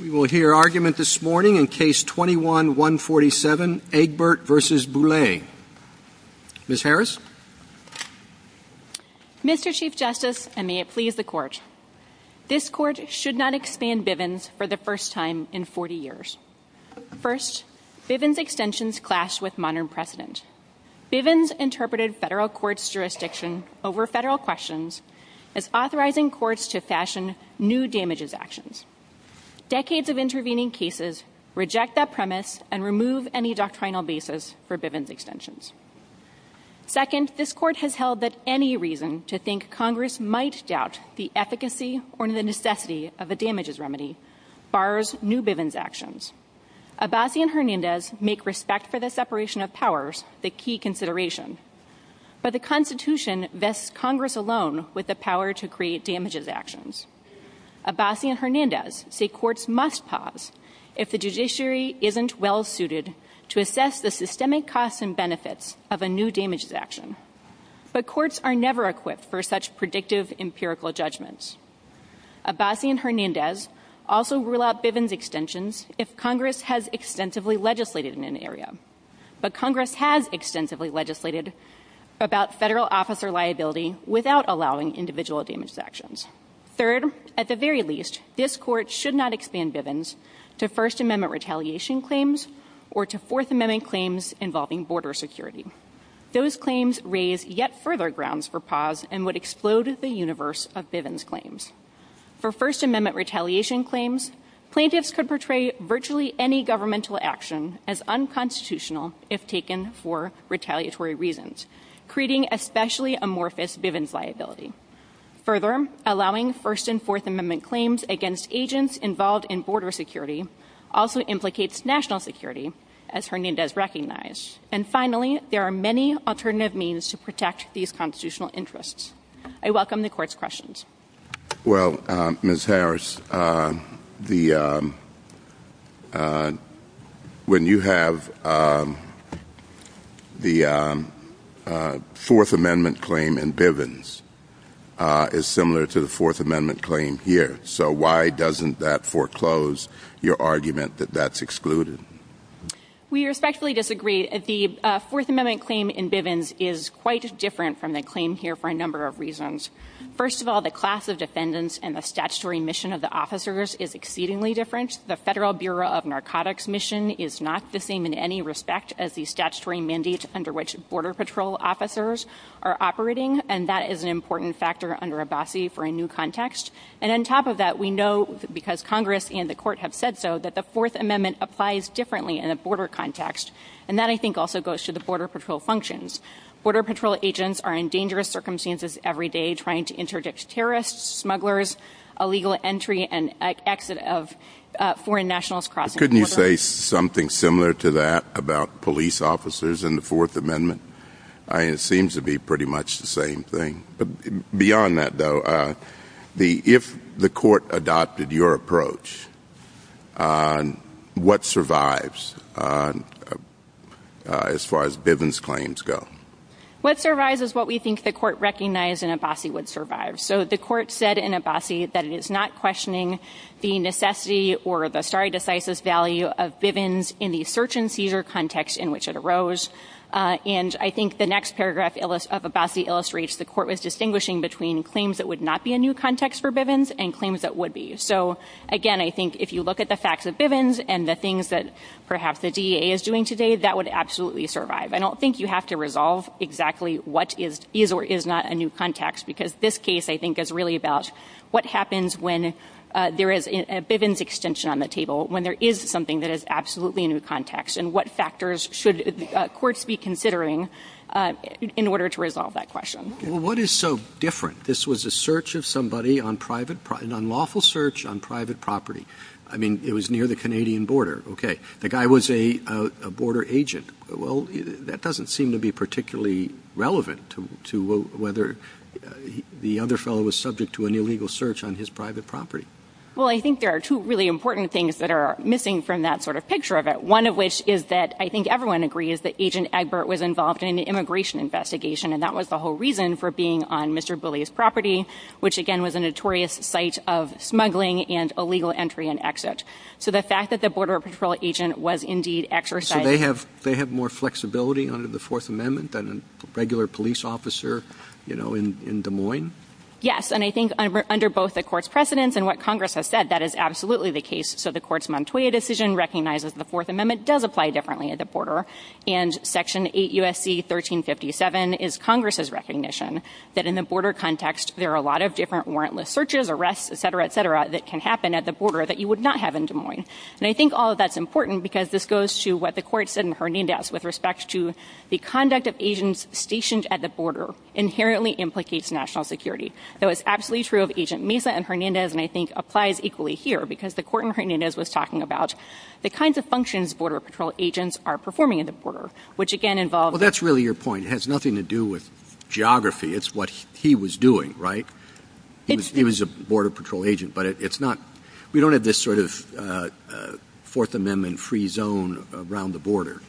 Mr. Chief Justice, and may it please the Court. This Court should not expand Bivens for the first time in 40 years. First, Bivens extensions clash with modern precedents. Bivens interpreted federal courts' jurisdiction over federal questions, thus authorizing courts to fashion new damages actions. Decades of intervening cases reject that premise and remove any doctrinal basis for Bivens extensions. Second, this Court has held that any reason to think Congress might doubt the efficacy or necessity of a damages remedy bars new Bivens actions. Abbasi and Hernandez make respect for the separation of powers the key consideration, but the Constitution vests Congress alone with the power to create damages actions. Abbasi and Hernandez say courts must pause if the judiciary isn't well-suited to assess the systemic costs and benefits of a new damages action. But courts are never equipped for such predictive, empirical judgments. Abbasi and Hernandez also rule out Bivens extensions if Congress has extensively legislated in an area. But Congress has extensively legislated about federal officer liability without allowing individual damages actions. Third, at the very least, this Court should not expand Bivens to First Amendment retaliation claims or to Fourth Amendment claims involving border security. Those claims raise yet further grounds for pause and would explode the universe of Bivens claims. For First Amendment retaliation claims, plaintiffs could portray virtually any governmental action as unconstitutional if taken for retaliatory reasons, creating especially amorphous Bivens liability. Further, allowing First and Fourth Amendment claims against agents involved in border security also implicates national security, as Hernandez recognized. And finally, there are many alternative means to protect these constitutional interests. I welcome the Court's questions. Well, Ms. Harris, when you have the Fourth Amendment claim in Bivens, it's similar to the Fourth Amendment claim here. So why doesn't that foreclose your argument that that's excluded? We respectfully disagree. The Fourth Amendment claim in Bivens is quite different from the claim here for a number of reasons. First of all, the class of defendants and the statutory mission of the officers is exceedingly different. The Federal Bureau of Narcotics mission is not the same in any respect as the statutory mandate under which border patrol officers are operating, and that is an important factor under Abbasi for a new context. And on top of that, we know, because Congress and the Court have said so, that the Fourth Amendment applies differently in a border context. And that, I think, also goes to the border patrol functions. Border patrol agents are in dangerous circumstances every day, trying to interdict terrorists, smugglers, illegal entry and exit of foreign nationals. Couldn't you say something similar to that about police officers in the Fourth Amendment? I mean, it seems to be pretty much the same thing. Beyond that, though, if the Court adopted your approach, what survives as far as Bivens claims go? What survives is what we think the Court recognized in Abbasi would survive. So the Court said in Abbasi that it is not questioning the necessity or the stare decisis value of Bivens in the search and seizure context in which it arose. And I think the next paragraph of Abbasi illustrates the Court was distinguishing between claims that would not be a new context for Bivens and claims that would be. So, again, I think if you look at the facts of Bivens and the things that perhaps the DEA is doing today, that would absolutely survive. I don't think you have to resolve exactly what is or is not a new context, because this case, I think, is really about what happens when there is a Bivens extension on the table, when there is something that is absolutely a new context, and what factors should courts be considering in order to resolve that question. Well, what is so different? This was a search of somebody, an unlawful search on private property. I mean, it was near the Canadian border. Okay. The guy was a border agent. Well, that doesn't seem to be particularly relevant to whether the other fellow was subject to an illegal search on his private property. Well, I think there are two really important things that are missing from that sort of picture of it. One of which is that I think everyone agrees that Agent Egbert was involved in the immigration investigation, and that was the whole reason for being on Mr. Bully's property, which, again, was a notorious site of smuggling and illegal entry and exit. So the fact that the border patrol agent was indeed exercising... So they have more flexibility under the Fourth Amendment than a regular police officer, you know, in Des Moines? Yes. And I think under both the court's precedents and what Congress has said, that is absolutely the case. So the court's Montoya decision recognizes the Fourth Amendment does apply differently at the border. And Section 8 U.S.C. 1357 is Congress's recognition that in the border context, there are a lot of different warrantless searches, arrests, etc., etc., that can happen at the border that you would not have in Des Moines. And I think all of that's important because this goes to what the court said in Hernandez with respect to the conduct of agents stationed at the border inherently implicates national security. So it's absolutely true of Agent Mesa and Hernandez, and I think applies equally here because the court in Hernandez was talking about the kinds of functions border patrol agents are performing at the border, which again involves... He was a border patrol agent, but it's not... We don't have this sort of Fourth Amendment free zone around the border.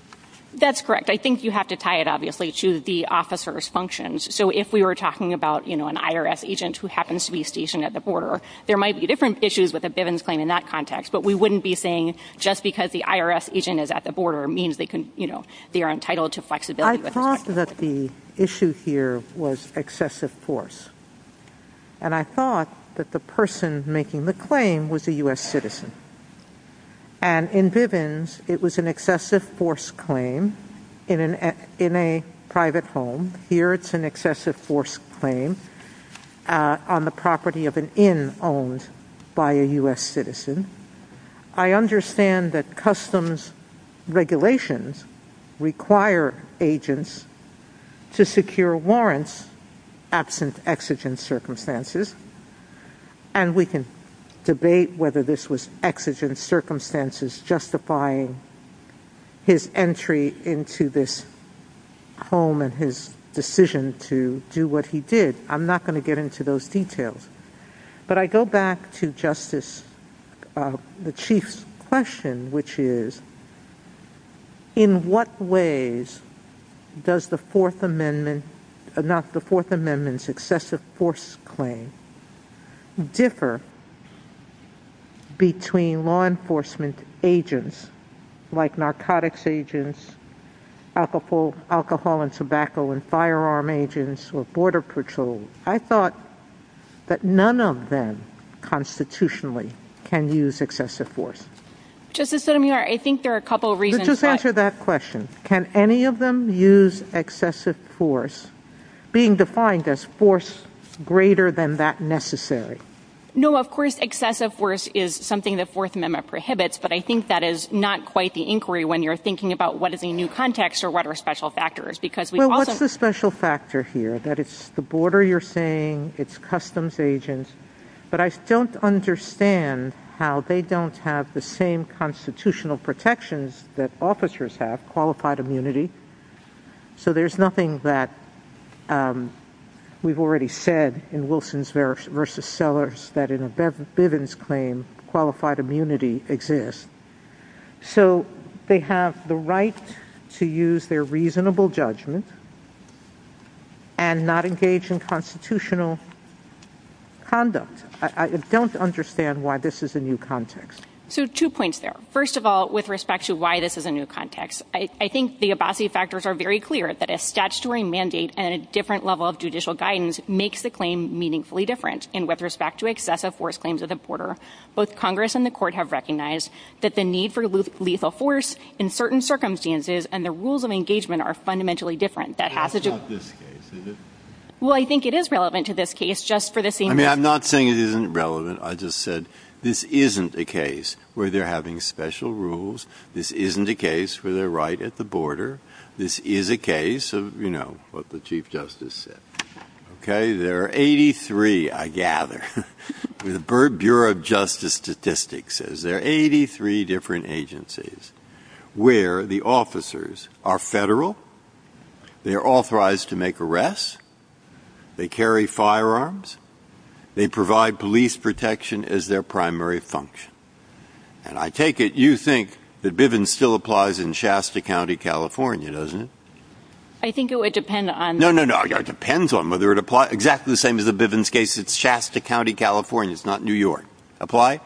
That's correct. I think you have to tie it, obviously, to the officer's functions. So if we were talking about, you know, an IRS agent who happens to be stationed at the border, there might be different issues with a Bivens claim in that context, but we wouldn't be saying just because the IRS agent is at the border means they can, you know, they are entitled to flexibility. I thought that the issue here was excessive force. And I thought that the person making the claim was a U.S. citizen. And in Bivens, it was an excessive force claim in a private home. Here it's an excessive force claim on the property of an inn owned by a U.S. citizen. I understand that customs regulations require agents to secure warrants absent exigent circumstances, and we can debate whether this was exigent circumstances justifying his entry into this home and his decision to do what he did. I'm not going to get into those details. But I go back to Justice... the Chief's question, which is, in what ways does the Fourth Amendment... not the Fourth Amendment's excessive force claim differ between law enforcement agents like narcotics agents, alcohol and tobacco and firearm agents or border patrols? I thought that none of them constitutionally can use excessive force. Justice Sotomayor, I think there are a couple of reasons... Let's just answer that question. Can any of them use excessive force, being defined as force greater than that necessary? No, of course excessive force is something the Fourth Amendment prohibits, but I think that is not quite the inquiry when you're thinking about what is a new context or what are special factors, because we also... I understand what you're saying, it's customs agents, but I don't understand how they don't have the same constitutional protections that officers have, qualified immunity. So there's nothing that we've already said in Wilson v. Sellers that in a Bivens claim qualified immunity exists. So they have the right to use their reasonable judgment and not engage in constitutional conduct. I don't understand why this is a new context. So two points there. First of all, with respect to why this is a new context, I think the Abbasi factors are very clear, that a statutory mandate and a different level of judicial guidance makes the claim meaningfully different. And with respect to excessive force claims of the border, both Congress and the court have recognized that the need for lethal force in certain circumstances and the rules of engagement are fundamentally different. That's not this case, is it? Well, I think it is relevant to this case, just for the same... I mean, I'm not saying it isn't relevant. I just said this isn't a case where they're having special rules. This isn't a case where they're right at the border. This is a case of, you know, what the Chief Justice said. Okay, there are 83, I gather, the Bureau of Justice Statistics says there are 83 different agencies where the officers are federal, they're authorized to make arrests, they carry firearms, they provide police protection as their primary function. And I take it you think that Bivens still applies in Shasta County, California, doesn't it? I think it would depend on... No, no, no. It depends on whether it applies. It's exactly the same as the Bivens case. It's Shasta County, California. It's not New York. Apply?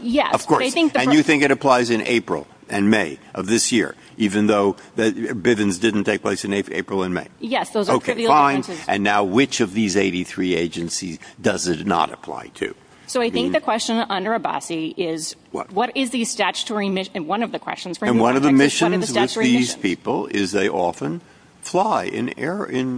Yes. Of course. And you think it applies in April and May of this year, even though Bivens didn't take place in April and May? Yes. Okay, fine. And now which of these 83 agencies does it not apply to? So I think the question under Abbasi is, what is the statutory mission... And one of the missions with these people is they often fly in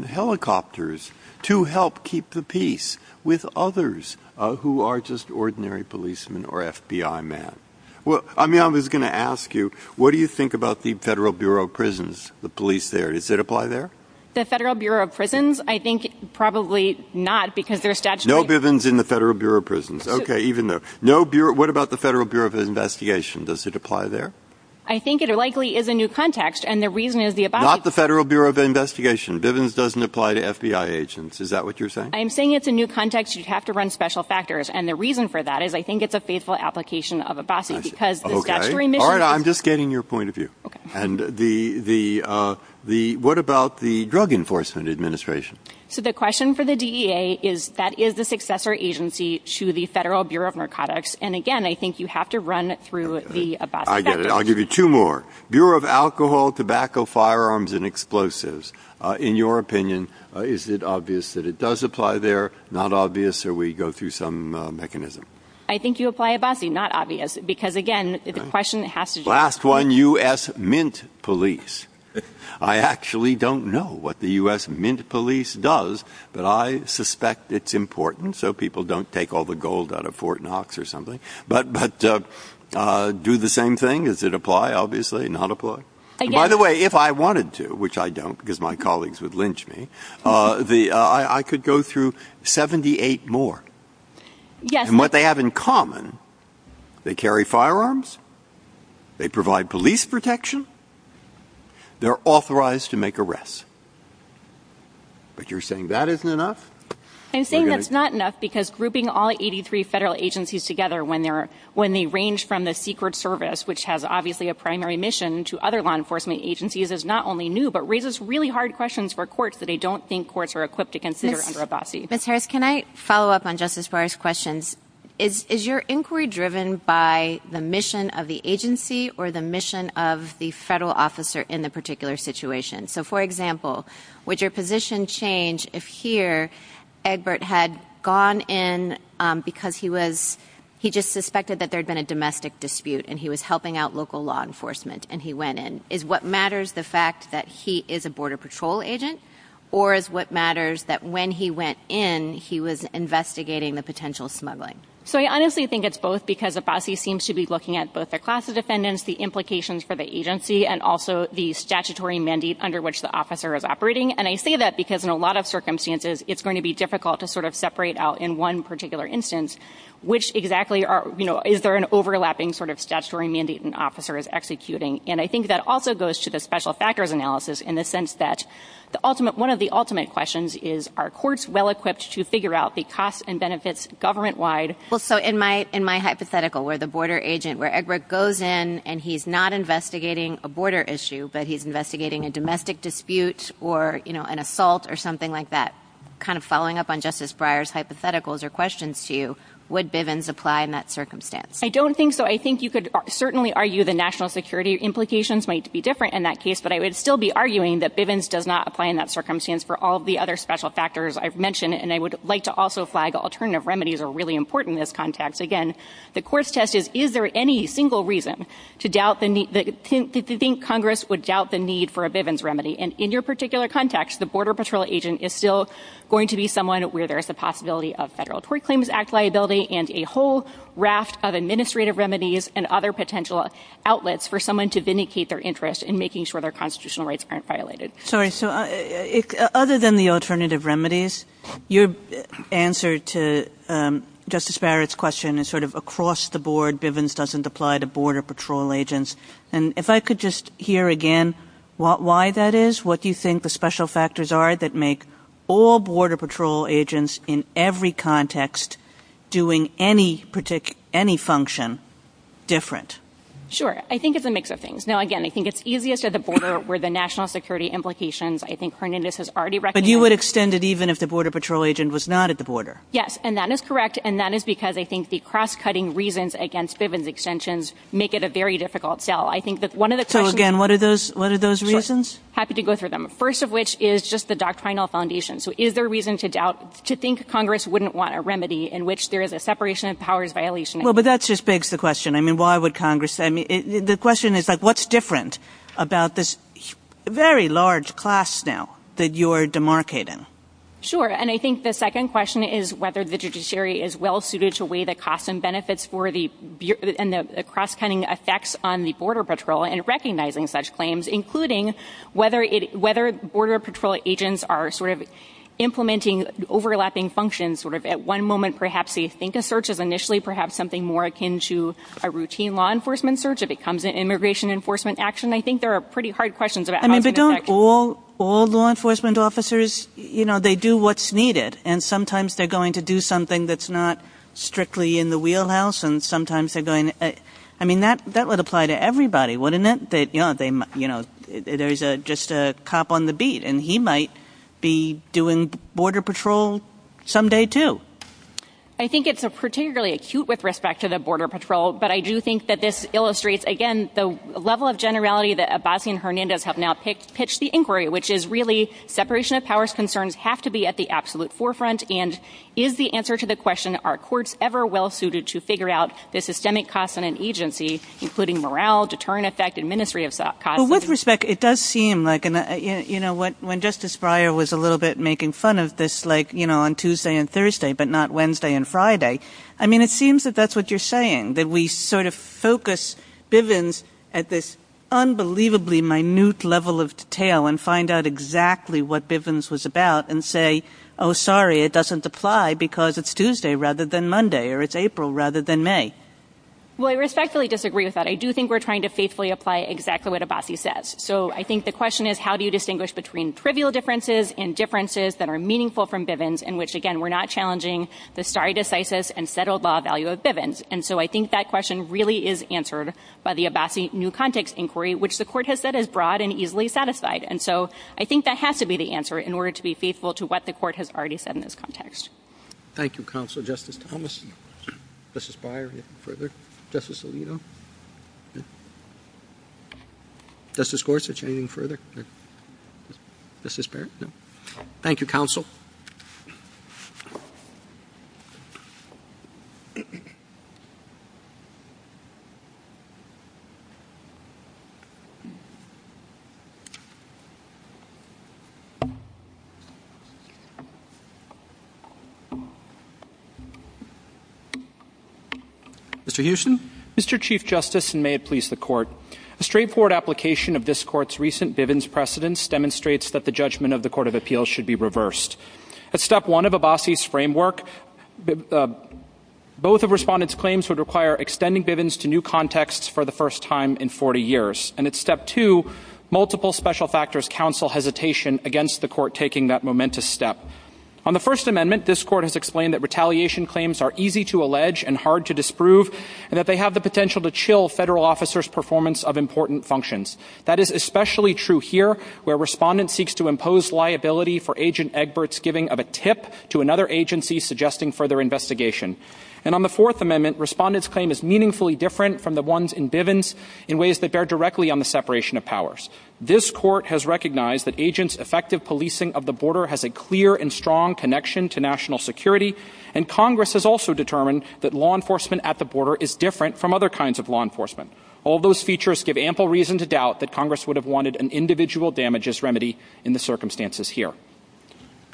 helicopters to help keep the peace with others who are just ordinary policemen or FBI men. Well, I mean, I was going to ask you, what do you think about the Federal Bureau of Prisons, the police there? Does it apply there? The Federal Bureau of Prisons? I think probably not because there's statutory... No Bivens in the Federal Bureau of Prisons. Okay, even though... What about the Federal Bureau of Investigation? Does it apply there? I think it likely is a new context, and the reason is the Abbasi... Not the Federal Bureau of Investigation. Bivens doesn't apply to FBI agents. Is that what you're saying? I'm saying it's a new context. You'd have to run special factors. And the reason for that is I think it's a faithful application of Abbasi because the statutory mission... All right, I'm just getting your point of view. And what about the Drug Enforcement Administration? So the question for the DEA is that is a successor agency to the Federal Bureau of Narcotics. And again, I think you have to run through the Abbasi factors. I get it. I'll give you two more. Bureau of Alcohol, Tobacco, Firearms, and Explosives. In your opinion, is it obvious that it does apply there? Not obvious? Or we go through some mechanism? I think you apply Abbasi. Not obvious. Because again, the question has to do... Last one, U.S. Mint Police. I actually don't know what the U.S. Mint Police does, but I suspect it's important so people don't take all the gold out of Fort Knox or something. But do the same thing. Does it apply? Obviously not apply. By the way, if I wanted to, which I don't because my colleagues would lynch me, I could go through 78 more. And what they have in common, they carry firearms, they provide police protection, they're authorized to make arrests. But you're saying that isn't enough? I'm saying that's not enough because grouping all 83 federal agencies together when they range from the Secret Service, which has obviously a primary mission to other law enforcement agencies, is not only new, but raises really hard questions for courts that I don't think courts are equipped to consider under Abbasi. Ms. Harris, can I follow up on just as far as questions? Is your inquiry driven by the mission of the agency or the mission of the federal officer in the particular situation? So for example, would your position change if here, Edward had gone in because he just suspected that there had been a domestic dispute and he was helping out local law enforcement and he went in? Is what matters the fact that he is a Border Patrol agent? Or is what matters that when he went in, he was investigating the potential smuggling? So I honestly think it's both because Abbasi seems to be looking at both the class of defendants, the implications for the agency, and also the statutory mandate under which the officer is operating. And I say that because in a lot of circumstances, it's going to be difficult to sort of separate out in one particular instance, which exactly are, you know, is there an overlapping sort of statutory mandate an officer is executing? And I think that also goes to the special factors analysis in the sense that one of the ultimate questions is, are courts well-equipped to figure out the costs and benefits government-wide? So in my hypothetical, where the border agent, where Edward goes in and he's not investigating a border issue, but he's investigating a domestic dispute or, you know, an assault or something like that, kind of following up on Justice Breyer's hypotheticals or questions to you, would Bivens apply in that circumstance? I don't think so. I think you could certainly argue the national security implications might be different in that case, but I would still be arguing that Bivens does not apply in that circumstance for all the other special factors I've mentioned. And I would like to also flag alternative remedies are really important in this context. Again, the court's test is, is there any single reason to doubt the need, to think Congress would doubt the need for a Bivens remedy? And in your particular context, the Border Patrol agent is still going to be someone where there is the possibility of Federal Tort Claims Act liability and a whole raft of administrative remedies and other potential outlets for someone to vindicate their interest in making sure their constitutional rights aren't violated. Sorry. So other than the alternative remedies, your answer to Justice Barrett's question is sort of across the board, Bivens doesn't apply to Border Patrol agents. And if I could just hear again why that is, what do you think the special factors are that make all Border Patrol agents in every context doing any function different? Sure. I think it's a mix of things. Now, again, I think it's easiest at the border where the national security implications, I think Hernandez has already recognized. But you would extend it even if the Border Patrol agent was not at the border? Yes. And that is correct. And that is because I think the cross-cutting reasons against Bivens extensions make it a very difficult sell. So again, what are those reasons? Happy to go through them. First of which is just the doctrinal foundation. So is there reason to doubt, to think Congress wouldn't want a remedy in which there is a separation of powers violation? Well, but that just begs the question. I mean, why would Congress, I mean, the question is like, what's different about this very large class now that you are demarcating? Sure. And I think the second question is whether the judiciary is well-suited to weigh the costs and benefits for the cross-cutting effects on the Border Patrol and recognizing such claims, including whether Border Patrol agents are sort of implementing overlapping functions. Sort of at one moment, perhaps they think a search is initially perhaps something more akin to a routine law enforcement search. If it comes to immigration enforcement action, I think there are pretty hard questions. I mean, but don't all law enforcement officers, you know, they do what's needed. And sometimes they're going to do something that's not strictly in the wheelhouse. And sometimes they're going, I mean, that would apply to everybody, wouldn't it? You know, there's just a cop on the beat and he might be doing Border Patrol someday too. I think it's particularly acute with respect to the Border Patrol. But I do think that this illustrates, again, the level of generality that Abbasi and Hernandez have now pitched the inquiry, which is really separation of powers concerns have to be at the absolute forefront. And is the answer to the question, are courts ever well-suited to figure out the systemic costs in an agency, including morale, deterrent effect, and ministry of costs? Well, with respect, it does seem like, you know, when Justice Breyer was a little bit making fun of this, like, you know, on Tuesday and Thursday, but not Wednesday and Friday. I mean, it seems that that's what you're saying, that we sort of focus Bivens at this unbelievably minute level of detail and find out exactly what Bivens was about and say, oh, sorry, it doesn't apply because it's Tuesday rather than Monday or it's April rather than May. Well, I respectfully disagree with that. I do think we're trying to faithfully apply exactly what Abbasi says. So I think the question is, how do you distinguish between trivial differences and differences that are meaningful from Bivens in which, again, we're not challenging the stare decisis and settled law value of Bivens? And so I think that question really is answered by the Abbasi new context inquiry, which the court has said is broad and easily satisfied. And so I think that has to be the answer in order to be faithful to what the court has already said in this context. Thank you, counsel. Justice Thomas, Justice Breyer, anything further? Justice Alito? Justice Gorsuch, anything further? Justice Barrett? Thank you, counsel. Mr. Hewson? Mr. Chief Justice, and may it please the court, the straightforward application of this court's recent Bivens precedence demonstrates that the judgment of the Court of Appeals should be reversed. At step one of Abbasi's framework, both of respondents' claims would require extending Bivens to new contexts for the first time in 40 years. And at step two, multiple special factors counsel hesitation against the court taking that momentous step. On the First Amendment, this court has explained that retaliation claims are easy to allege and hard to disprove, and that they have the potential to chill federal officers' performance of important functions. That is especially true here, where respondents seek to impose liability for Agent Egbert's giving of a tip to another agency suggesting further investigation. And on the Fourth Amendment, respondents' claim is meaningfully different from the ones in Bivens in ways that bear directly on the separation of powers. This court has recognized that agents' effective policing of the border has a clear and strong connection to national security, and Congress has also determined that law enforcement at the border is different from other kinds of law enforcement. All those features give ample reason to doubt that Congress would have wanted an individual damages remedy in the circumstances here.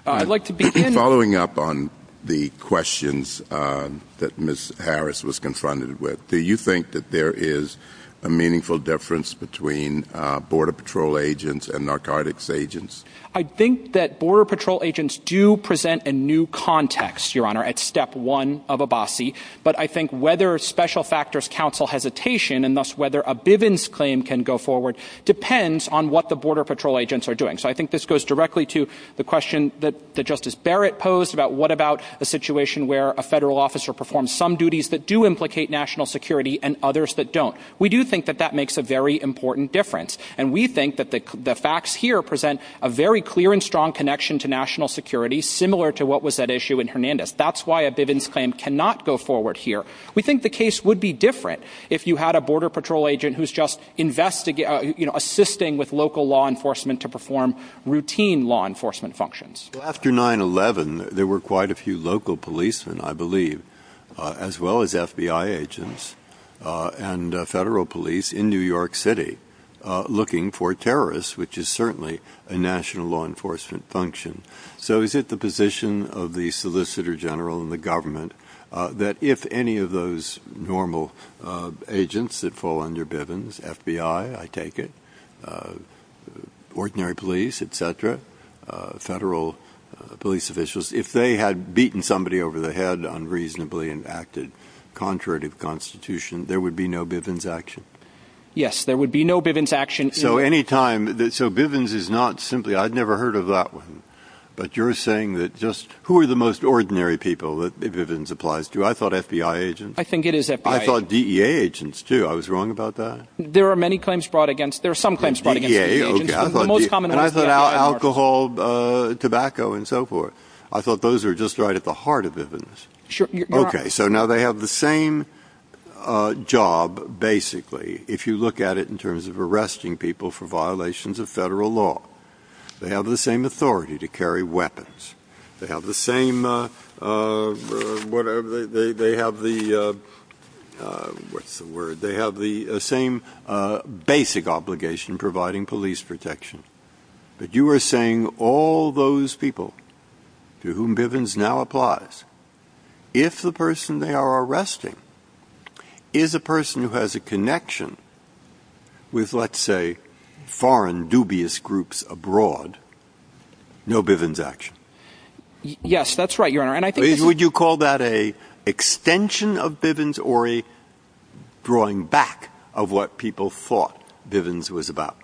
Following up on the questions that Ms. Harris was confronted with, do you think that there is a meaningful difference between Border Patrol agents and narcotics agents? I think that Border Patrol agents do present a new context, Your Honor, at step one of Abbasi. But I think whether special factors counsel hesitation, and thus whether a Bivens claim can go forward, depends on what the Border Patrol agents are doing. So I think this goes directly to the question that Justice Barrett posed about what about a situation where a federal officer performs some duties that do implicate national security and others that don't. We do think that that makes a very important difference. And we think that the facts here present a very clear and strong connection to national security, similar to what was at issue in Hernandez. That's why a Bivens claim cannot go forward here. We think the case would be different if you had a Border Patrol agent who's just assisting with local law enforcement to perform routine law enforcement functions. After 9-11, there were quite a few local policemen, I believe, as well as FBI agents and federal police in New York City looking for terrorists, which is certainly a national law enforcement function. So is it the position of the Solicitor General and the government that if any of those normal agents that fall under Bivens, FBI, I take it, ordinary police, etc., federal police officials, if they had beaten somebody over the head unreasonably and acted contrary to the Constitution, there would be no Bivens action? Yes, there would be no Bivens action. So Bivens is not simply – I'd never heard of that one. But you're saying that just – who are the most ordinary people that Bivens applies to? I thought FBI agents. I think it is FBI. I thought DEA agents, too. I was wrong about that? There are many claims brought against – there are some claims brought against DEA agents. I thought alcohol, tobacco, and so forth. I thought those were just right at the heart of Bivens. Okay, so now they have the same job, basically, if you look at it in terms of arresting people for violations of federal law. They have the same authority to carry weapons. They have the same – whatever – they have the – what's the word? They have the same basic obligation providing police protection. But you are saying all those people to whom Bivens now applies, if the person they are arresting is a person who has a connection with, let's say, foreign dubious groups abroad, no Bivens action? Yes, that's right, Your Honor. Would you call that an extension of Bivens or a drawing back of what people thought Bivens was about?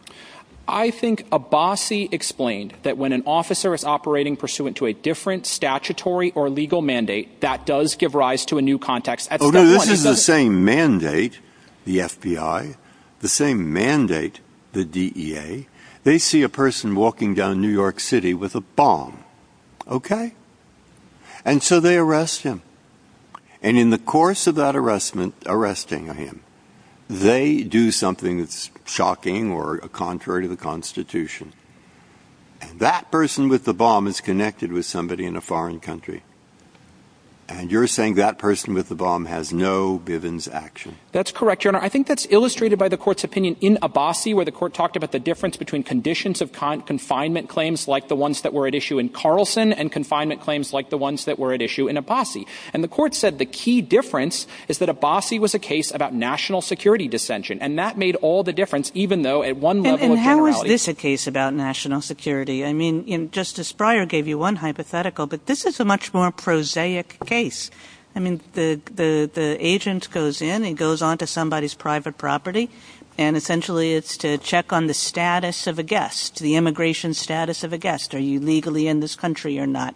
I think Abbasi explained that when an officer is operating pursuant to a different statutory or legal mandate, that does give rise to a new context. Oh, no, this is the same mandate, the FBI, the same mandate, the DEA. They see a person walking down New York City with a bomb, okay? And so they arrest him. And in the course of that arresting him, they do something shocking or contrary to the Constitution. That person with the bomb is connected with somebody in a foreign country. And you're saying that person with the bomb has no Bivens action. That's correct, Your Honor. I think that's illustrated by the court's opinion in Abbasi where the court talked about the difference between conditions of confinement claims like the ones that were at issue in Carlson and confinement claims like the ones that were at issue in Abbasi. And the court said the key difference is that Abbasi was a case about national security dissension. And that made all the difference even though at one level of generality. And how is this a case about national security? I mean, Justice Breyer gave you one hypothetical, but this is a much more prosaic case. I mean, the agent goes in and goes on to somebody's private property, and essentially it's to check on the status of a guest, the immigration status of a guest. Are you legally in this country or not?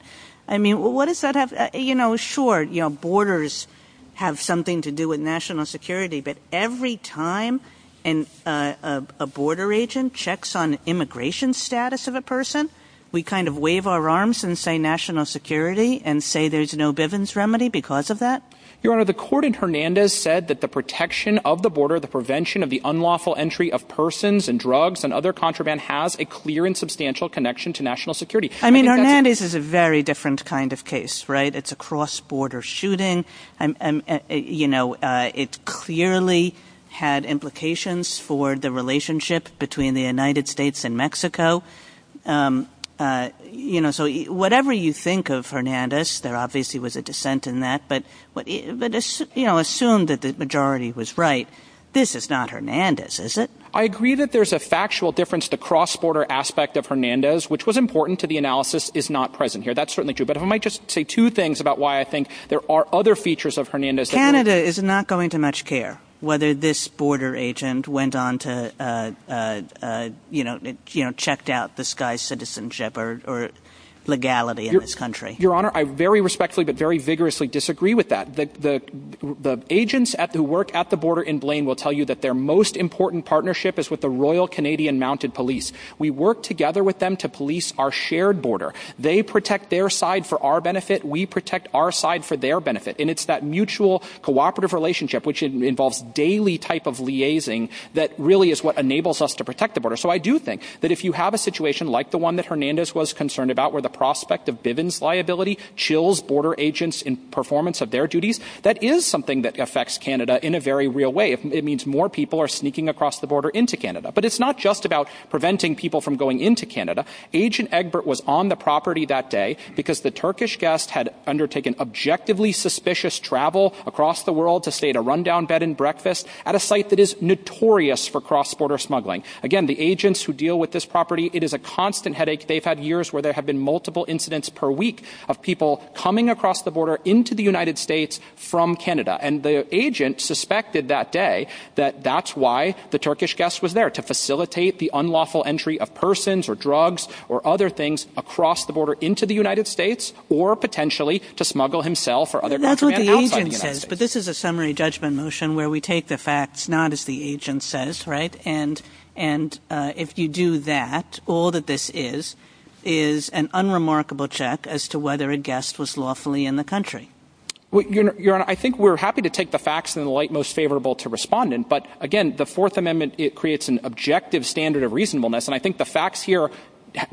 I mean, what does that have – you know, sure, borders have something to do with national security. But every time a border agent checks on immigration status of a person, we kind of wave our arms and say national security and say there's no Bivens remedy because of that? Your Honor, the court in Hernandez said that the protection of the border, the prevention of the unlawful entry of persons and drugs and other contraband has a clear and substantial connection to national security. I mean, Hernandez is a very different kind of case, right? It's a cross-border shooting. You know, it clearly had implications for the relationship between the United States and Mexico. You know, so whatever you think of Hernandez, there obviously was a dissent in that. But, you know, assume that the majority was right. This is not Hernandez, is it? I agree that there's a factual difference. The cross-border aspect of Hernandez, which was important to the analysis, is not present here. That's certainly true. But I might just say two things about why I think there are other features of Hernandez. Canada is not going to much care whether this border agent went on to, you know, checked out this guy's citizenship or legality in this country. Your Honor, I very respectfully but very vigorously disagree with that. The agents who work at the border in Blaine will tell you that their most important partnership is with the Royal Canadian Mounted Police. We work together with them to police our shared border. They protect their side for our benefit. We protect our side for their benefit. And it's that mutual cooperative relationship, which involves daily type of liaising, that really is what enables us to protect the border. So I do think that if you have a situation like the one that Hernandez was concerned about, where the prospect of Bivens liability chills border agents in performance of their duties, that is something that affects Canada in a very real way. It means more people are sneaking across the border into Canada. But it's not just about preventing people from going into Canada. Agent Egbert was on the property that day because the Turkish guest had undertaken objectively suspicious travel across the world to stay at a rundown bed and breakfast at a site that is notorious for cross-border smuggling. Again, the agents who deal with this property, it is a constant headache. They've had years where there have been multiple incidents per week of people coming across the border into the United States from Canada. And the agent suspected that day that that's why the Turkish guest was there, to facilitate the unlawful entry of persons or drugs or other things across the border into the United States or potentially to smuggle himself or other people. But this is a summary judgment motion where we take the facts, not as the agent says, right? And and if you do that, all that this is, is an unremarkable check as to whether a guest was lawfully in the country. I think we're happy to take the facts in the light most favorable to respond in. But again, the Fourth Amendment, it creates an objective standard of reasonableness. And I think the facts here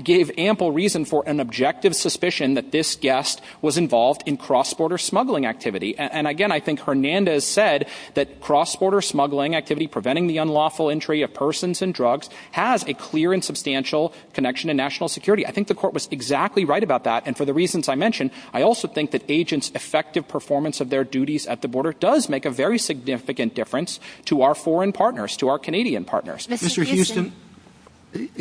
gave ample reason for an objective suspicion that this guest was involved in cross-border smuggling activity. And again, I think Hernandez said that cross-border smuggling activity, preventing the unlawful entry of persons and drugs has a clear and substantial connection to national security. I think the court was exactly right about that. And for the reasons I mentioned, I also think that agents' effective performance of their duties at the border does make a very significant difference to our foreign partners, to our Canadian partners. Mr. Houston,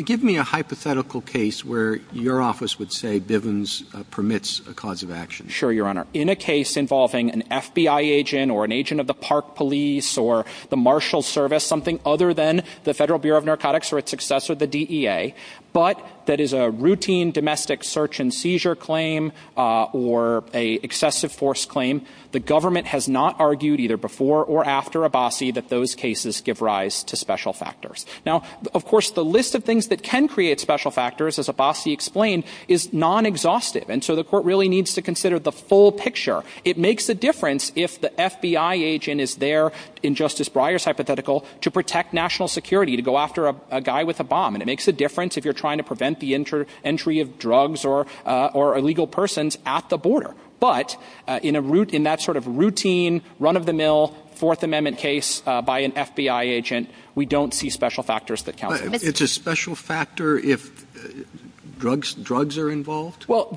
give me a hypothetical case where your office would say Bivens permits a cause of action. Sure, Your Honor. In a case involving an FBI agent or an agent of the Park Police or the Marshals Service, something other than the Federal Bureau of Narcotics or its successor, the DEA, but that is a routine domestic search and seizure claim or a excessive force claim, the government has not argued either before or after Abassi that those cases give rise to special factors. Now, of course, the list of things that can create special factors, as Abassi explained, is non-exhaustive. And so the court really needs to consider the full picture. It makes a difference if the FBI agent is there, in Justice Breyer's hypothetical, to protect national security, to go after a guy with a bomb. And it makes a difference if you're trying to prevent the entry of drugs or illegal persons at the border. But in that sort of routine, run-of-the-mill, Fourth Amendment case by an FBI agent, we don't see special factors that count. It's a special factor if drugs are involved? Well,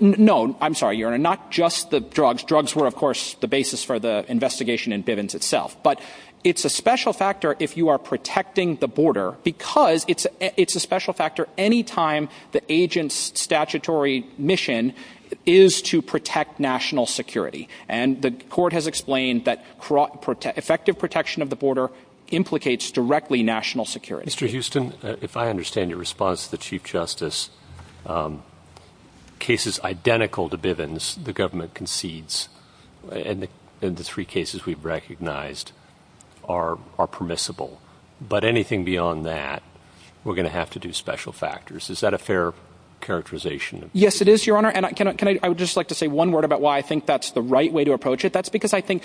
no, I'm sorry, Your Honor, not just the drugs. Drugs were, of course, the basis for the investigation in Bivens itself. But it's a special factor if you are protecting the border because it's a special factor any time the agent's statutory mission is to protect national security. And the court has explained that effective protection of the border implicates directly national security. Mr. Houston, if I understand your response to the Chief Justice, cases identical to Bivens the government concedes, and the three cases we've recognized, are permissible. But anything beyond that, we're going to have to do special factors. Is that a fair characterization? Yes, it is, Your Honor. And I would just like to say one word about why I think that's the right way to approach it. That's because I think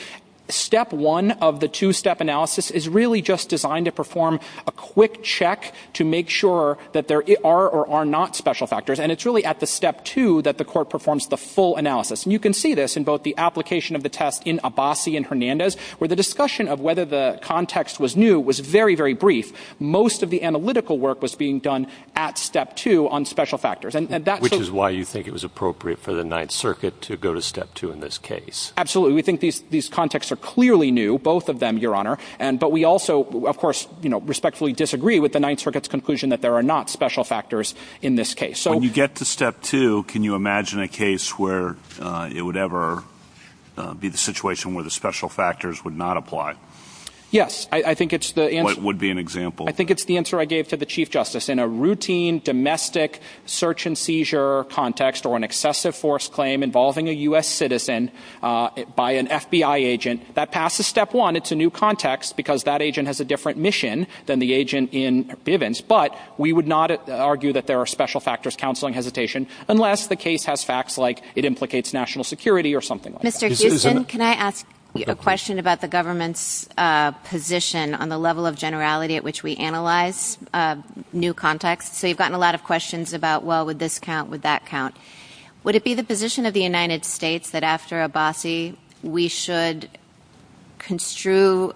step one of the two-step analysis is really just designed to perform a quick check to make sure that there are or are not special factors. And it's really at the step two that the court performs the full analysis. And you can see this in both the application of the test in Abbasi and Hernandez, where the discussion of whether the context was new was very, very brief. Most of the analytical work was being done at step two on special factors. Which is why you think it was appropriate for the Ninth Circuit to go to step two in this case? Absolutely. We think these contexts are clearly new, both of them, Your Honor. But we also, of course, respectfully disagree with the Ninth Circuit's conclusion that there are not special factors in this case. When you get to step two, can you imagine a case where it would ever be the situation where the special factors would not apply? Yes, I think it's the answer. What would be an example? I think it's the answer I gave to the Chief Justice. In a routine domestic search and seizure context or an excessive force claim involving a U.S. citizen by an FBI agent, that passes step one. It's a new context because that agent has a different mission than the agent in Bivens. But we would not argue that there are special factors, counseling, hesitation, unless the case has facts like it implicates national security or something like that. Mr. Houston, can I ask a question about the government's position on the level of generality at which we analyze new contexts? So you've gotten a lot of questions about, well, would this count? Would that count? Would it be the position of the United States that after Abbasi, we should construe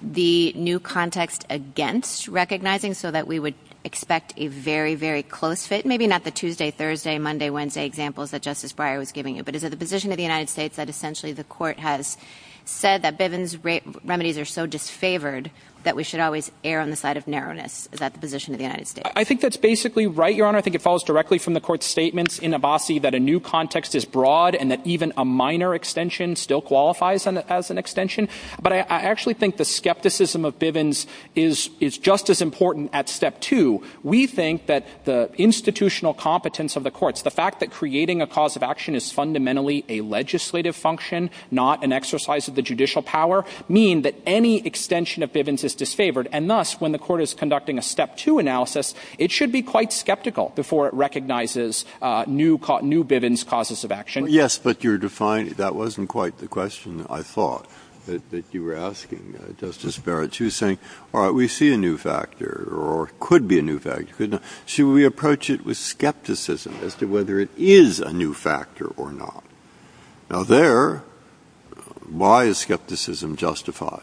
the new context against recognizing so that we would expect a very, very close fit? Maybe not the Tuesday, Thursday, Monday, Wednesday examples that Justice Breyer was giving you. But is it the position of the United States that essentially the court has said that Bivens remedies are so disfavored that we should always err on the side of narrowness? Is that the position of the United States? I think that's basically right, Your Honor. I think it falls directly from the court's statements in Abbasi that a new context is broad and that even a minor extension still qualifies as an extension. But I actually think the skepticism of Bivens is just as important at step two. We think that the institutional competence of the courts, the fact that creating a cause of action is fundamentally a legislative function, not an exercise of the judicial power, mean that any extension of Bivens is disfavored. And thus, when the court is conducting a step two analysis, it should be quite skeptical before it recognizes new Bivens causes of action. Yes, but that wasn't quite the question I thought that you were asking, Justice Barrett. You were saying, all right, we see a new factor or could be a new factor. Should we approach it with skepticism as to whether it is a new factor or not? Now, there, why is skepticism justified?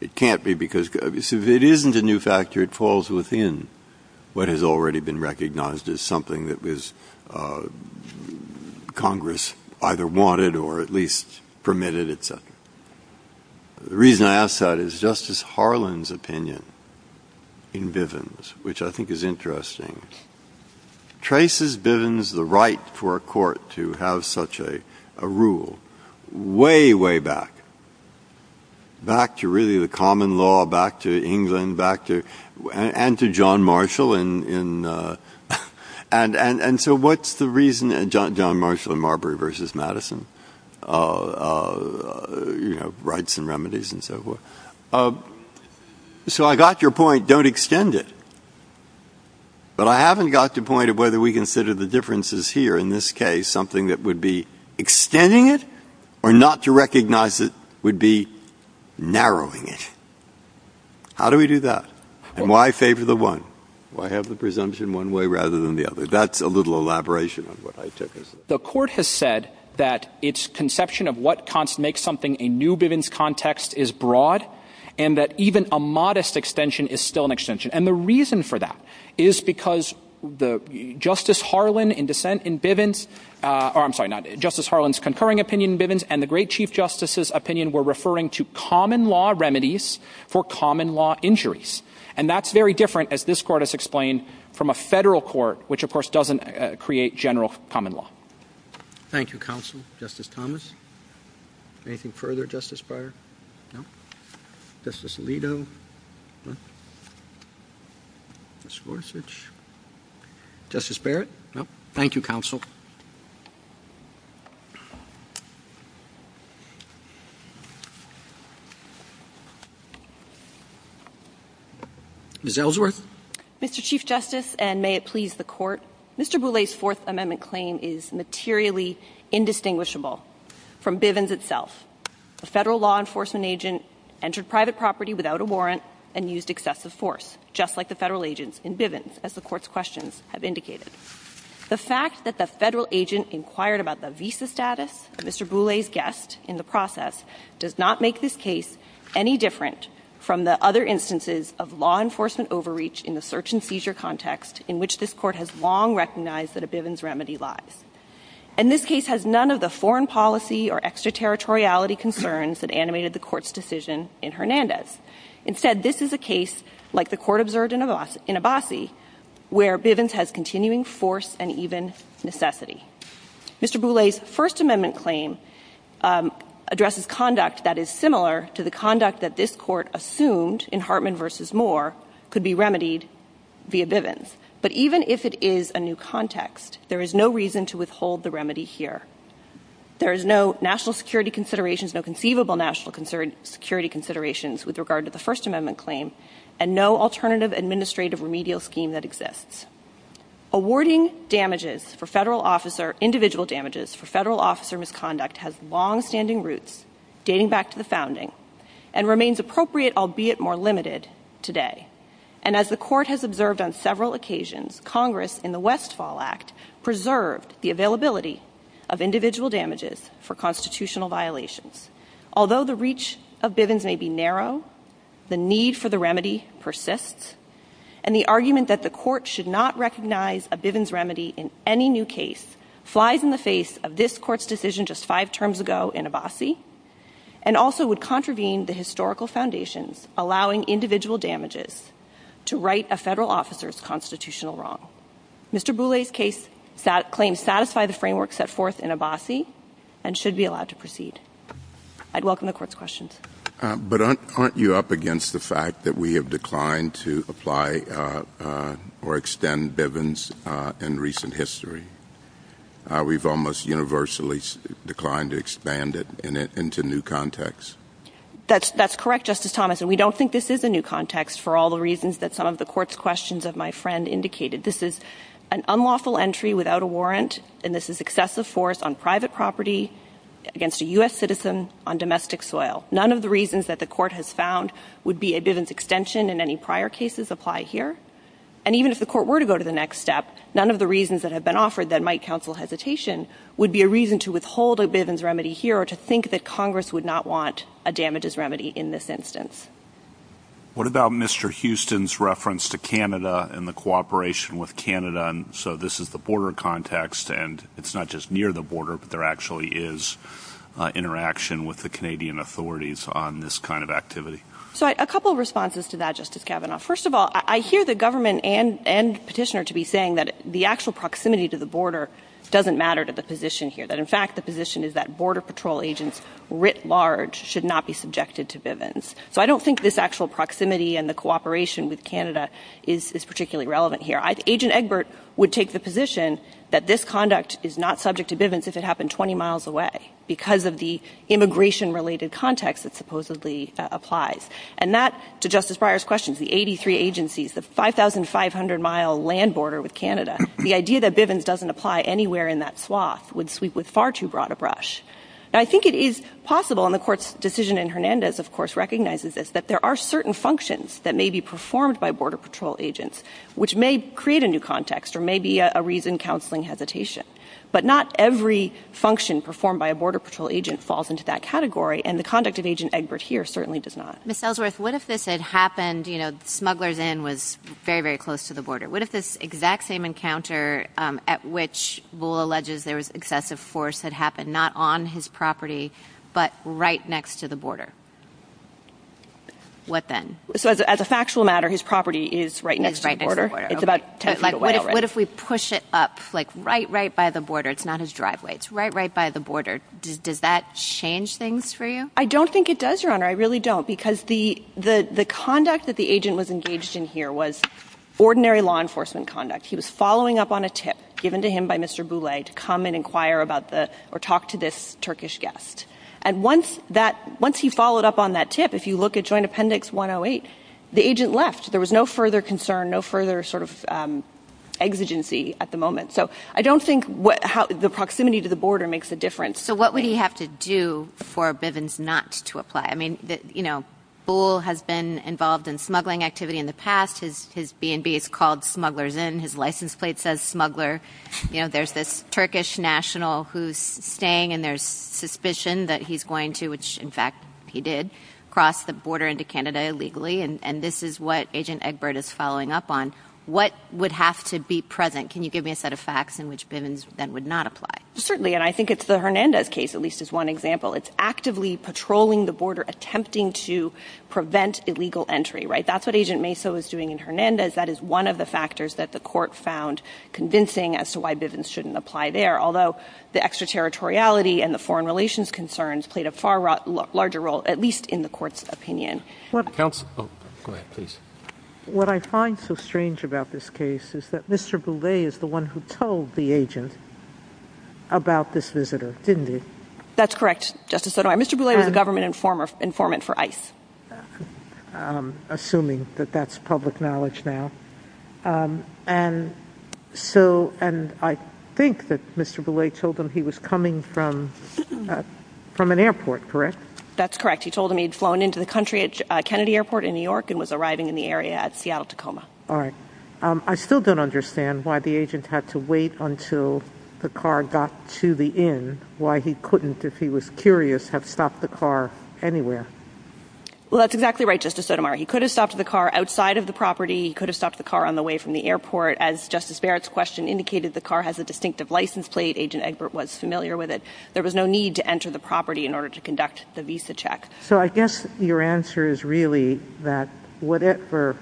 It can't be because it isn't a new factor. It falls within what has already been recognized as something that Congress either wanted or at least permitted. The reason I ask that is Justice Harlan's opinion in Bivens, which I think is interesting, traces Bivens the right for a court to have such a rule way, way back. Back to really the common law, back to England, back to and to John Marshall in. And so what's the reason? And John Marshall and Marbury versus Madison rights and remedies and so forth. So I got your point. Don't extend it. But I haven't got to the point of whether we consider the differences here. In this case, something that would be extending it or not to recognize it would be narrowing it. How do we do that? And why favor the one? Why have the presumption one way rather than the other? That's a little elaboration of what I said. The court has said that its conception of what makes something a new Bivens context is broad and that even a modest extension is still an extension. And the reason for that is because Justice Harlan's concurring opinion in Bivens and the great Chief Justice's opinion were referring to common law remedies for common law injuries. And that's very different, as this court has explained, from a federal court, which, of course, doesn't create general common law. Thank you, counsel. Justice Thomas. Anything further, Justice Breyer? Justice Alito. Justice Gorsuch. Justice Barrett. Thank you, counsel. Ms. Ellsworth. Mr. Chief Justice, and may it please the court, Mr. Boulay's Fourth Amendment claim is materially indistinguishable from Bivens itself. A federal law enforcement agent entered private property without a warrant and used excessive force, just like the federal agents in Bivens, as the court's questions have indicated. The fact that the federal agent inquired about the visa status of Mr. Boulay's guest in the process does not make this case any different from the other instances of law enforcement overreach in the search-and-seizure context in which this court has long recognized that a Bivens remedy lies. And this case has none of the foreign policy or extraterritoriality concerns that animated the court's decision in Hernandez. Instead, this is a case, like the court observed in Abbasi, where Bivens has continuing force and even necessity. Mr. Boulay's First Amendment claim addresses conduct that is similar to the conduct that this court assumed in Hartman v. Moore could be remedied via Bivens. But even if it is a new context, there is no reason to withhold the remedy here. There is no national security considerations, no conceivable national security considerations with regard to the First Amendment claim, and no alternative administrative remedial scheme that exists. Awarding damages for federal officer, individual damages for federal officer misconduct has long-standing roots, dating back to the founding, and remains appropriate, albeit more limited, today. And as the court has observed on several occasions, Congress in the Westfall Act preserved the availability of individual damages for constitutional violations. Although the reach of Bivens may be narrow, the need for the remedy persists, and the argument that the court should not recognize a Bivens remedy in any new case flies in the face of this court's decision just five terms ago in Abbasi, and also would contravene the historical foundation, allowing individual damages to right a federal officer's constitutional wrong. Mr. Boulay's case claims satisfy the framework set forth in Abbasi and should be allowed to proceed. I'd welcome the court's questions. But aren't you up against the fact that we have declined to apply or extend Bivens in recent history? We've almost universally declined to expand it into new context. That's correct, Justice Thomas, and we don't think this is a new context for all the reasons that some of the court's questions of my friend indicated. This is an unlawful entry without a warrant, and this is excessive force on private property against a U.S. citizen on domestic soil. None of the reasons that the court has found would be a Bivens extension in any prior cases apply here. And even if the court were to go to the next step, none of the reasons that have been offered that might counsel hesitation would be a reason to withhold a Bivens remedy here or to think that Congress would not want a damages remedy in this instance. What about Mr. Houston's reference to Canada and the cooperation with Canada? And so this is the border context, and it's not just near the border, but there actually is interaction with the Canadian authorities on this kind of activity. So a couple of responses to that, Justice Kavanaugh. First of all, I hear the government and petitioner to be saying that the actual proximity to the border doesn't matter to the position here. That, in fact, the position is that Border Patrol agents writ large should not be subjected to Bivens. I don't think this actual proximity and the cooperation with Canada is particularly relevant here. Agent Egbert would take the position that this conduct is not subject to Bivens if it happened 20 miles away because of the immigration-related context that supposedly applies. And that, to Justice Breyer's questions, the 83 agencies, the 5,500-mile land border with Canada, the idea that Bivens doesn't apply anywhere in that sloth would sweep with far too broad a brush. I think it is possible, and the court's decision in Hernandez, of course, recognizes this, that there are certain functions that may be performed by Border Patrol agents, which may create a new context or may be a reasoned counseling hesitation. But not every function performed by a Border Patrol agent falls into that category, and the conduct of Agent Egbert here certainly does not. Ms. Ellsworth, what if this had happened, you know, smugglers in was very, very close to the border? What if this exact same encounter at which Willow alleges there was excessive force had happened, not on his property, but right next to the border? Flip that. As a factual matter, his property is right next to the border. What if we push it up, like, right, right by the border? It's not his driveway. It's right, right by the border. Does that change things for you? I don't think it does, Your Honor. I really don't, because the conduct that the agent was engaged in here was ordinary law enforcement conduct. He was following up on a tip given to him by Mr. Boulay to come and inquire about the, or talk to this Turkish guest. And once he followed up on that tip, if you look at Joint Appendix 108, the agent left. There was no further concern, no further sort of exigency at the moment. So I don't think the proximity to the border makes a difference. So what would he have to do for Bivens not to apply? I mean, you know, Bull has been involved in smuggling activity in the past. His B&B has called smugglers in. His license plate says smuggler. You know, there's this Turkish national who's saying, and there's suspicion that he's going to, which in fact he did, cross the border into Canada illegally. And this is what Agent Egbert is following up on. What would have to be present? Can you give me a set of facts in which Bivens then would not apply? Certainly, and I think it's the Hernandez case, at least as one example. It's actively patrolling the border, attempting to prevent illegal entry, right? That's what Agent Maso is doing in Hernandez. That is one of the factors that the court found convincing as to why Bivens shouldn't apply there. Although the extraterritoriality and the foreign relations concerns played a far larger role, at least in the court's opinion. What I find so strange about this case is that Mr. Boulay is the one who told the agent about this visitor, didn't he? That's correct, Justice Sotomayor. Mr. Boulay was a government informant for ICE. Assuming that that's public knowledge now. And I think that Mr. Boulay told him he was coming from an airport, correct? That's correct. He told him he had flown into the country at Kennedy Airport in New York and was arriving in the area at Seattle-Tacoma. All right. I still don't understand why the agent had to wait until the car got to the inn, why he couldn't, if he was curious, have stopped the car anywhere. Well, that's exactly right, Justice Sotomayor. He could have stopped the car outside of the property. He could have stopped the car on the way from the airport. As Justice Barrett's question indicated, the car has a distinctive license plate. Agent Egbert was familiar with it. There was no need to enter the property in order to conduct the visa check. So I guess your answer is really that whatever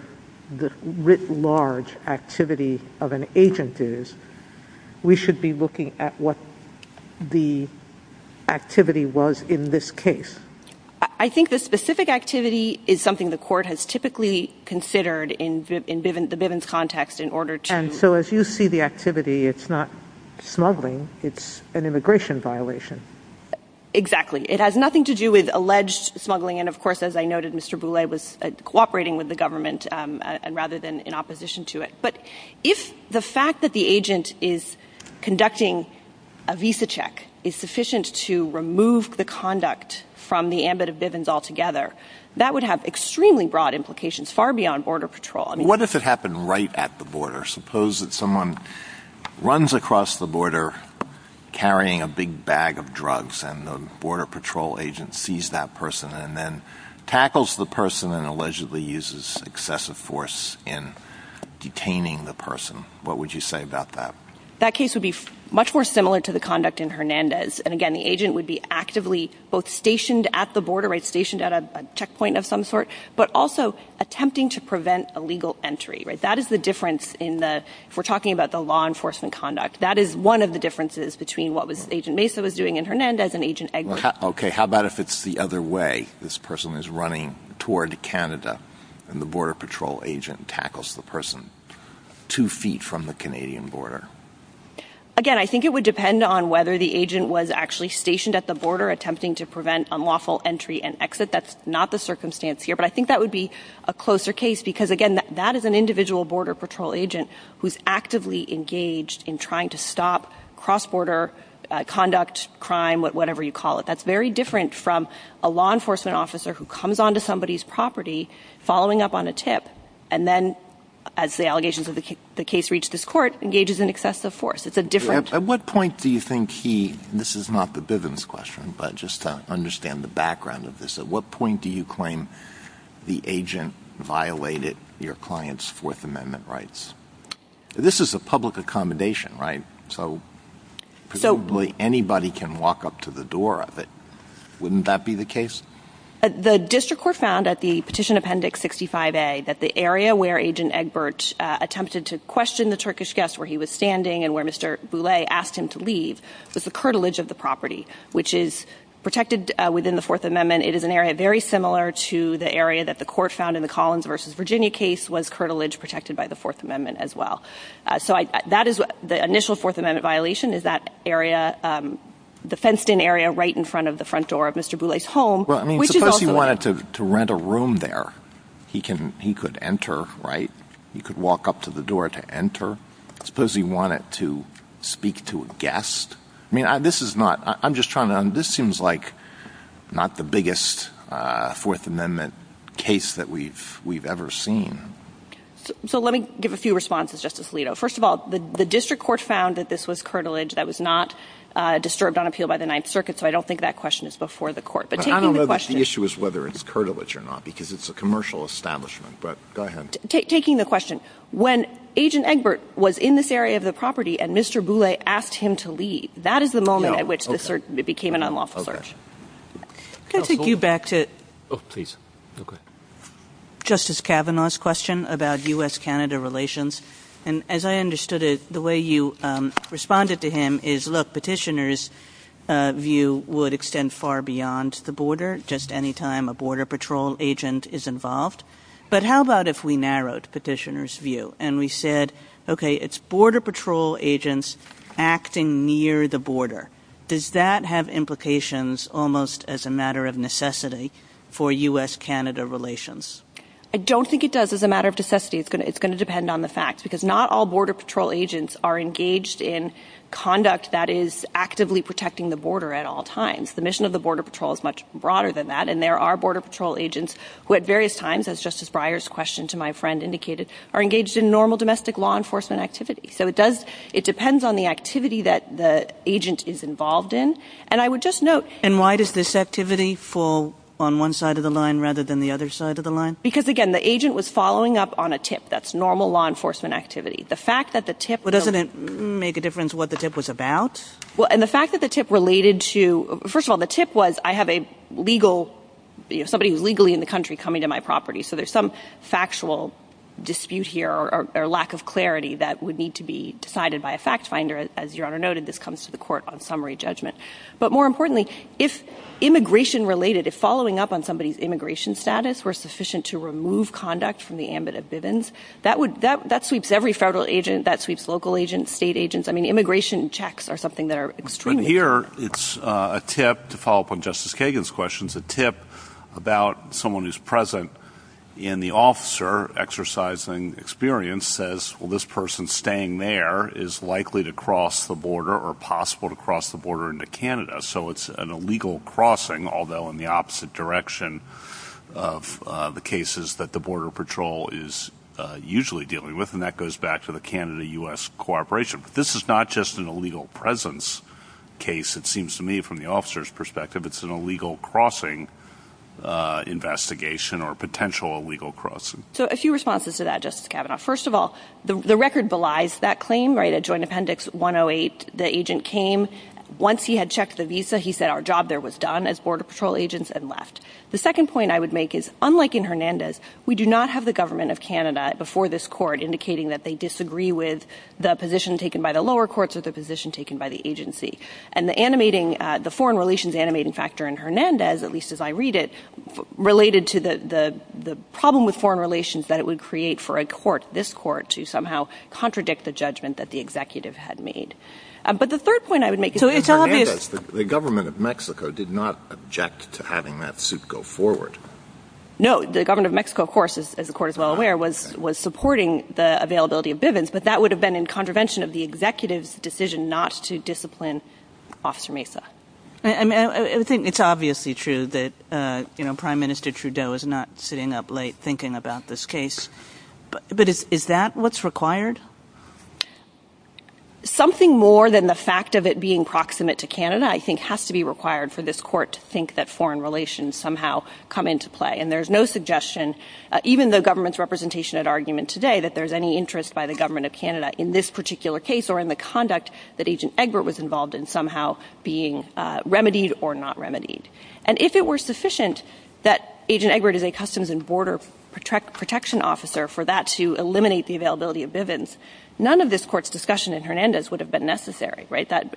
the writ large activity of an agent is, we should be looking at what the activity was in this case. I think the specific activity is something the court has typically considered in the Bivens context in order to- Exactly. It has nothing to do with alleged smuggling. And of course, as I noted, Mr. Boulay was cooperating with the government rather than in opposition to it. But if the fact that the agent is conducting a visa check is sufficient to remove the conduct from the ambit of Bivens altogether, that would have extremely broad implications, far beyond border patrol. What if it happened right at the border? Suppose that someone runs across the border carrying a big bag of drugs and the border patrol agent sees that person and then tackles the person and allegedly uses excessive force in detaining the person. What would you say about that? That case would be much more similar to the conduct in Hernandez. And again, the agent would be actively both stationed at the border, stationed at a checkpoint of some sort, but also attempting to prevent illegal entry. If we're talking about the law enforcement conduct, that is one of the differences between what Agent Mesa was doing in Hernandez and Agent Egbert. How about if it's the other way? This person is running toward Canada and the border patrol agent tackles the person two feet from the Canadian border. Again, I think it would depend on whether the agent was actually stationed at the border attempting to prevent unlawful entry and exit. That's not the circumstance here. But I think that would be a closer case because, again, that is an individual border patrol agent who's actively engaged in trying to stop cross-border conduct, crime, whatever you call it. That's very different from a law enforcement officer who comes onto somebody's property, following up on a tip, and then, as the allegations of the case reach this court, engages in excessive force. It's a different... At what point do you think he, and this is not the Bivens question, but just to understand the background of this, at what point do you claim the agent violated your client's Fourth Amendment rights? This is a public accommodation, right? So presumably anybody can walk up to the door of it. Wouldn't that be the case? The district court found at the Petition Appendix 65A that the area where Agent Egbert attempted to question the Turkish guest, where he was standing and where Mr. Boulay asked him to leave, was the curtilage of the property, which is protected within the Fourth Amendment. It is an area very similar to the area that the court found in the Collins v. Virginia case was curtilage protected by the Fourth Amendment as well. The initial Fourth Amendment violation is that area, the fenced-in area right in front of the front door of Mr. Boulay's home, which is also... ...the biggest Fourth Amendment case that we've ever seen. So let me give a few responses, Justice Alito. First of all, the district court found that this was curtilage that was not disturbed on appeal by the Ninth Circuit, so I don't think that question is before the court. But I don't know if the issue is whether it's curtilage or not, because it's a commercial establishment, but go ahead. Taking the question, when Agent Egbert was in this area of the property and Mr. Boulay asked him to leave, that is the moment at which this became an unlawful search. Can I take you back to Justice Kavanaugh's question about U.S.-Canada relations? And as I understood it, the way you responded to him is, look, Petitioner's view would extend far beyond the border just any time a Border Patrol agent is involved. But how about if we narrowed Petitioner's view and we said, okay, it's Border Patrol agents acting near the border. Does that have implications almost as a matter of necessity for U.S.-Canada relations? I don't think it does as a matter of necessity. It's going to depend on the facts, because not all Border Patrol agents are engaged in conduct that is actively protecting the border at all times. The mission of the Border Patrol is much broader than that, and there are Border Patrol agents who at various times, as Justice Breyer's question to my friend indicated, are engaged in normal domestic law enforcement activity. So it depends on the activity that the agent is involved in. And I would just note... And why does this activity fall on one side of the line rather than the other side of the line? Because, again, the agent was following up on a tip. That's normal law enforcement activity. The fact that the tip... But doesn't it make a difference what the tip was about? Well, and the fact that the tip related to... First of all, the tip was, I have somebody who's legally in the country coming to my property, so there's some factual dispute here or lack of clarity that would need to be decided by a fact finder. As Your Honor noted, this comes to the court on summary judgment. But more importantly, if immigration-related, if following up on somebody's immigration status were sufficient to remove conduct from the ambit of Bivens, that sweeps every federal agent, that sweeps local agents, state agents. I mean, immigration checks are something that are extremely... But here, it's a tip, to follow up on Justice Kagan's questions, a tip about someone who's present in the officer exercising experience says, well, this person staying there is likely to cross the border or possible to cross the border into Canada. So it's an illegal crossing, although in the opposite direction of the cases that the Border Patrol is usually dealing with, and that goes back to the Canada-US cooperation. So it's not just an illegal presence case, it seems to me, from the officer's perspective. It's an illegal crossing investigation or potential illegal crossing. So a few responses to that, Justice Kavanaugh. First of all, the record belies that claim, right? At Joint Appendix 108, the agent came. Once he had checked the visa, he said our job there was done as Border Patrol agents and left. The second point I would make is, unlike in Hernandez, we do not have the government of Canada before this court indicating that they disagree with the position taken by the lower courts or the position taken by the agency. And the foreign relations animating factor in Hernandez, at least as I read it, related to the problem with foreign relations that it would create for a court, this court, to somehow contradict the judgment that the executive had made. But the third point I would make is... The government of Mexico did not object to having that suit go forward. No, the government of Mexico, of course, as the court is well aware, was supporting the availability of Bivens, but that would have been in contravention of the executive's decision not to discipline Officer Mesa. I think it's obviously true that Prime Minister Trudeau is not sitting up late thinking about this case, but is that what's required? Something more than the fact of it being proximate to Canada, I think, has to be required for this court to think that foreign relations somehow come into play. And there's no suggestion, even the government's representation at argument today, that there's any interest by the government of Canada in this particular case or in the conduct that Agent Egbert was involved in somehow being remedied or not remedied. And if it were sufficient that Agent Egbert is a Customs and Border Protection officer for that to eliminate the availability of Bivens, none of this court's discussion in Hernandez would have been necessary.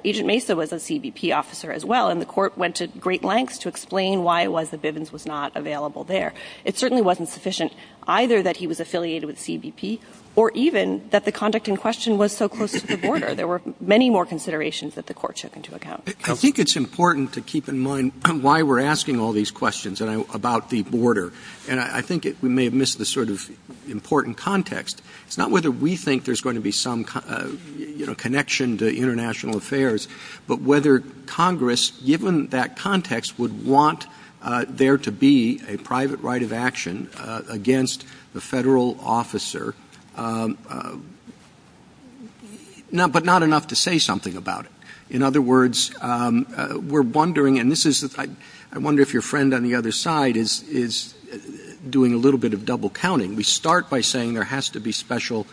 Agent Mesa was a CBP officer as well, and the court went to great lengths to explain why it was that Bivens was not available there. It certainly wasn't sufficient either that he was affiliated with CBP or even that the conduct in question was so close to the border. There were many more considerations that the court took into account. I think it's important to keep in mind why we're asking all these questions about the border. And I think we may have missed this sort of important context. It's not whether we think there's going to be some connection to international affairs, but whether Congress, given that context, would want there to be a private right of action against the federal officer, but not enough to say something about it. In other words, I wonder if your friend on the other side is doing a little bit of double counting. We start by saying there has to be special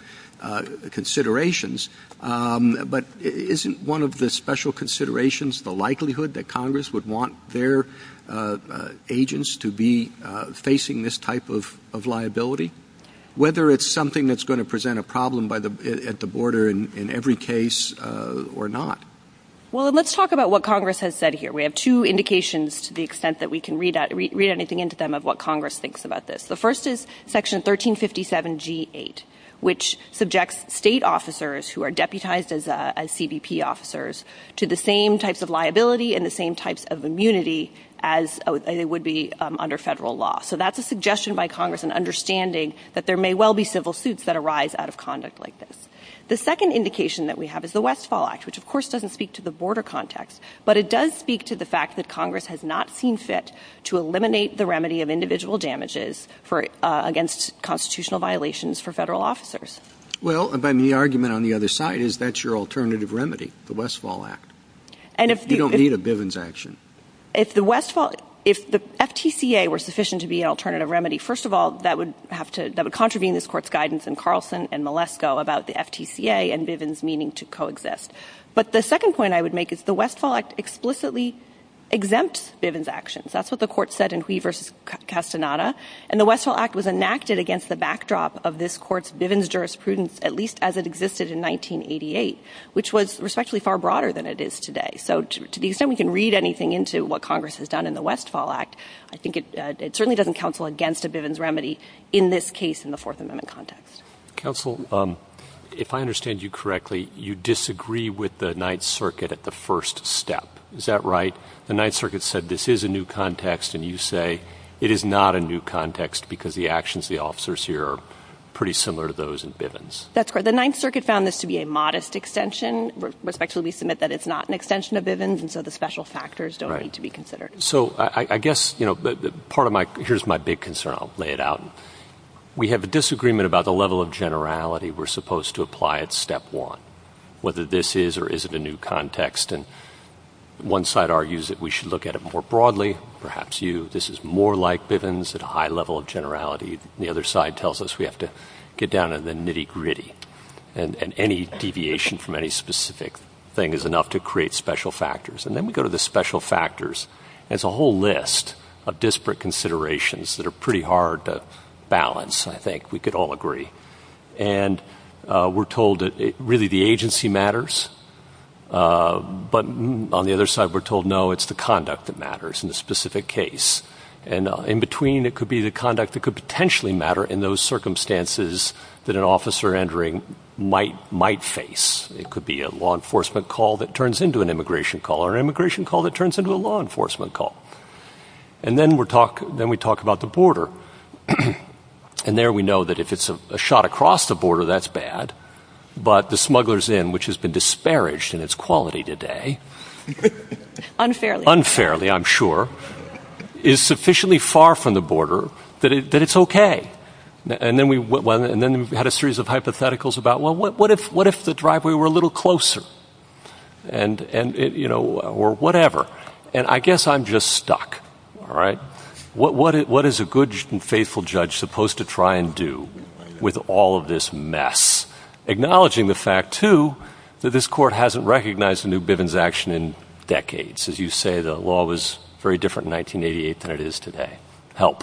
considerations, but isn't one of the special considerations the likelihood that Congress would want their agents to be facing this type of liability? Whether it's something that's going to present a problem at the border in every case or not. Well, let's talk about what Congress has said here. We have two indications to the extent that we can read anything into them of what Congress thinks about this. The first is Section 1357G8, which subjects state officers who are deputized as CBP officers to the same types of liability and the same types of immunity as it would be under federal law. So that's a suggestion by Congress in understanding that there may well be civil suits that arise out of conduct like this. The second indication that we have is the Westfall Act, which of course doesn't speak to the border context, but it does speak to the fact that Congress has not seen fit to eliminate the remedy of individual damages against constitutional violations for federal officers. Well, then the argument on the other side is that's your alternative remedy, the Westfall Act. You don't need a Bivens action. If the FTCA were sufficient to be an alternative remedy, first of all, that would contravene this court's guidance in Carlson and Malesko about the FTCA and Bivens meaning to coexist. But the second point I would make is the Westfall Act explicitly exempts Bivens actions. That's what the court said in Huey v. Castaneda. And the Westfall Act was enacted against the backdrop of this court's Bivens jurisprudence at least as it existed in 1988, which was respectfully far broader than it is today. So to the extent we can read anything into what Congress has done in the Westfall Act, I think it certainly doesn't counsel against a Bivens remedy in this case in the Fourth Amendment context. Counsel, if I understand you correctly, you disagree with the Ninth Circuit at the first step. Is that right? The Ninth Circuit said this is a new context, and you say it is not a new context because the actions of the officers here are pretty similar to those in Bivens. That's correct. The Ninth Circuit found this to be a modest extension. Respectfully, we submit that it's not an extension of Bivens, and so the special factors don't need to be considered. So I guess, you know, part of my – here's my big concern. I'll lay it out. We have a disagreement about the level of generality we're supposed to apply at step one, whether this is or isn't a new context. And one side argues that we should look at it more broadly, perhaps you. This is more like Bivens at a high level of generality. The other side tells us we have to get down to the nitty-gritty. And any deviation from any specific thing is enough to create special factors. And then we go to the special factors, and it's a whole list of disparate considerations that are pretty hard to balance, I think. We could all agree. And we're told that really the agency matters, but on the other side we're told, no, it's the conduct that matters in a specific case. And in between, it could be the conduct that could potentially matter in those circumstances that an officer entering might face. It could be a law enforcement call that turns into an immigration call, or an immigration call that turns into a law enforcement call. And then we talk about the border. And there we know that if it's a shot across the border, that's bad. But the smugglers' inn, which has been disparaged in its quality today, unfairly I'm sure, is sufficiently far from the border that it's okay. And then we had a series of hypotheticals about, well, what if the driveway were a little closer? Or whatever. And I guess I'm just stuck. What is a good and faithful judge supposed to try and do with all of this mess? Acknowledging the fact, too, that this court hasn't recognized the New Bivens Action in decades. As you say, the law was very different in 1988 than it is today. Help.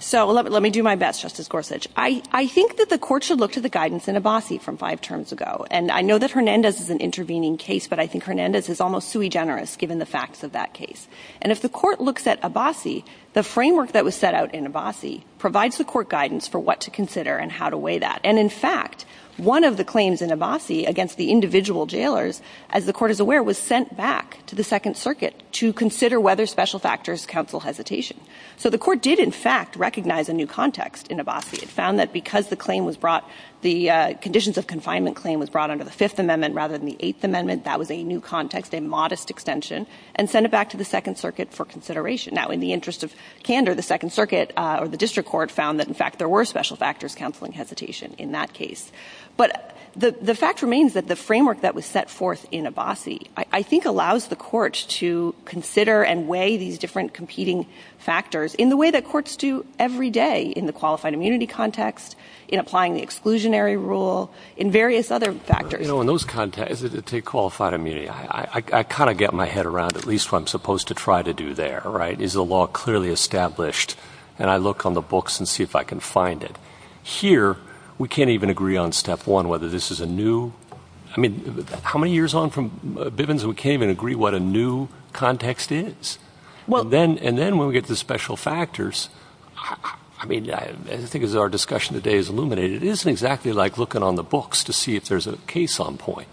So let me do my best, Justice Gorsuch. I think that the court should look to the guidance in Abbasi from five terms ago. And I know that Hernandez is an intervening case, but I think Hernandez is almost sui generis, given the facts of that case. And if the court looks at Abbasi, the framework that was set out in Abbasi provides the court guidance for what to consider and how to weigh that. And in fact, one of the claims in Abbasi against the individual jailers, as the court is aware, was sent back to the Second Circuit to consider whether special factors counsel hesitation. So the court did, in fact, recognize a new context in Abbasi. It found that because the conditions of confinement claim was brought under the Fifth Amendment rather than the Eighth Amendment, that was a new context, a modest extension, and sent it back to the Second Circuit for consideration. Now, in the interest of candor, the District Court found that, in fact, there were special factors counseling hesitation in that case. But the fact remains that the framework that was set forth in Abbasi, I think, allows the courts to consider and weigh these different competing factors in the way that courts do every day in the qualified immunity context, in applying the exclusionary rule, in various other factors. You know, in those contexts, to take qualified immunity, I kind of get my head around at least what I'm supposed to try to do there, right? Is the law clearly established? And I look on the books and see if I can find it. Here, we can't even agree on step one whether this is a new... I mean, how many years on from Bivens we can't even agree what a new context is? Well, and then when we get to special factors, I mean, I think as our discussion today has illuminated, it isn't exactly like looking on the books to see if there's a case on point.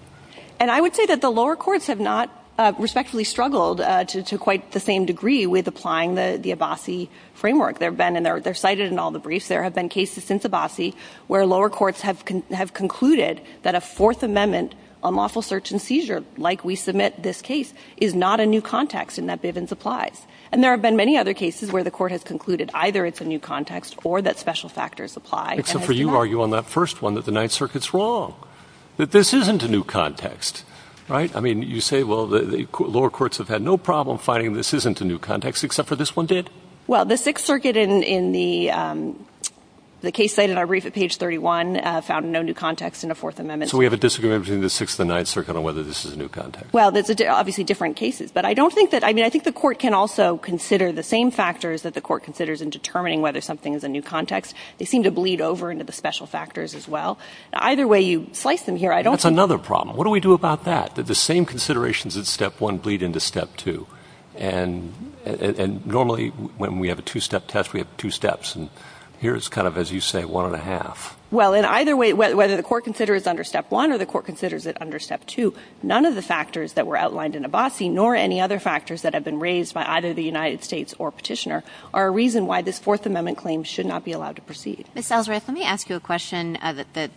And I would say that the lower courts have not respectfully struggled to quite the same degree with applying the Abbasi framework. There have been, and they're cited in all the briefs, there have been cases since Abbasi where lower courts have concluded that a Fourth Amendment on lawful search and seizure, like we submit this case, is not a new context in that Bivens applies. And there have been many other cases where the court has concluded either it's a new context or that special factors apply. Except for you argue on that first one that the Ninth Circuit's wrong, that this isn't a new context, right? I mean, you say, well, the lower courts have had no problem finding this isn't a new context, except for this one did. Well, the Sixth Circuit in the case cited in our brief at page 31 found no new context in a Fourth Amendment. So we have a disagreement between the Sixth and the Ninth Circuit on whether this is a new context? Well, there's obviously different cases, but I don't think that, I mean, I think the court can also consider the same factors that the court considers in determining whether something is a new context. They seem to bleed over into the special factors as well. Either way you slice them here, I don't think... When we have a two-step test, we have two steps. And here's kind of, as you say, one and a half. Well, in either way, whether the court considers it under Step 1 or the court considers it under Step 2, none of the factors that were outlined in Abbasi, nor any other factors that have been raised by either the United States or Petitioner, are a reason why this Fourth Amendment claim should not be allowed to proceed. Ms. Salazar, let me ask you a question,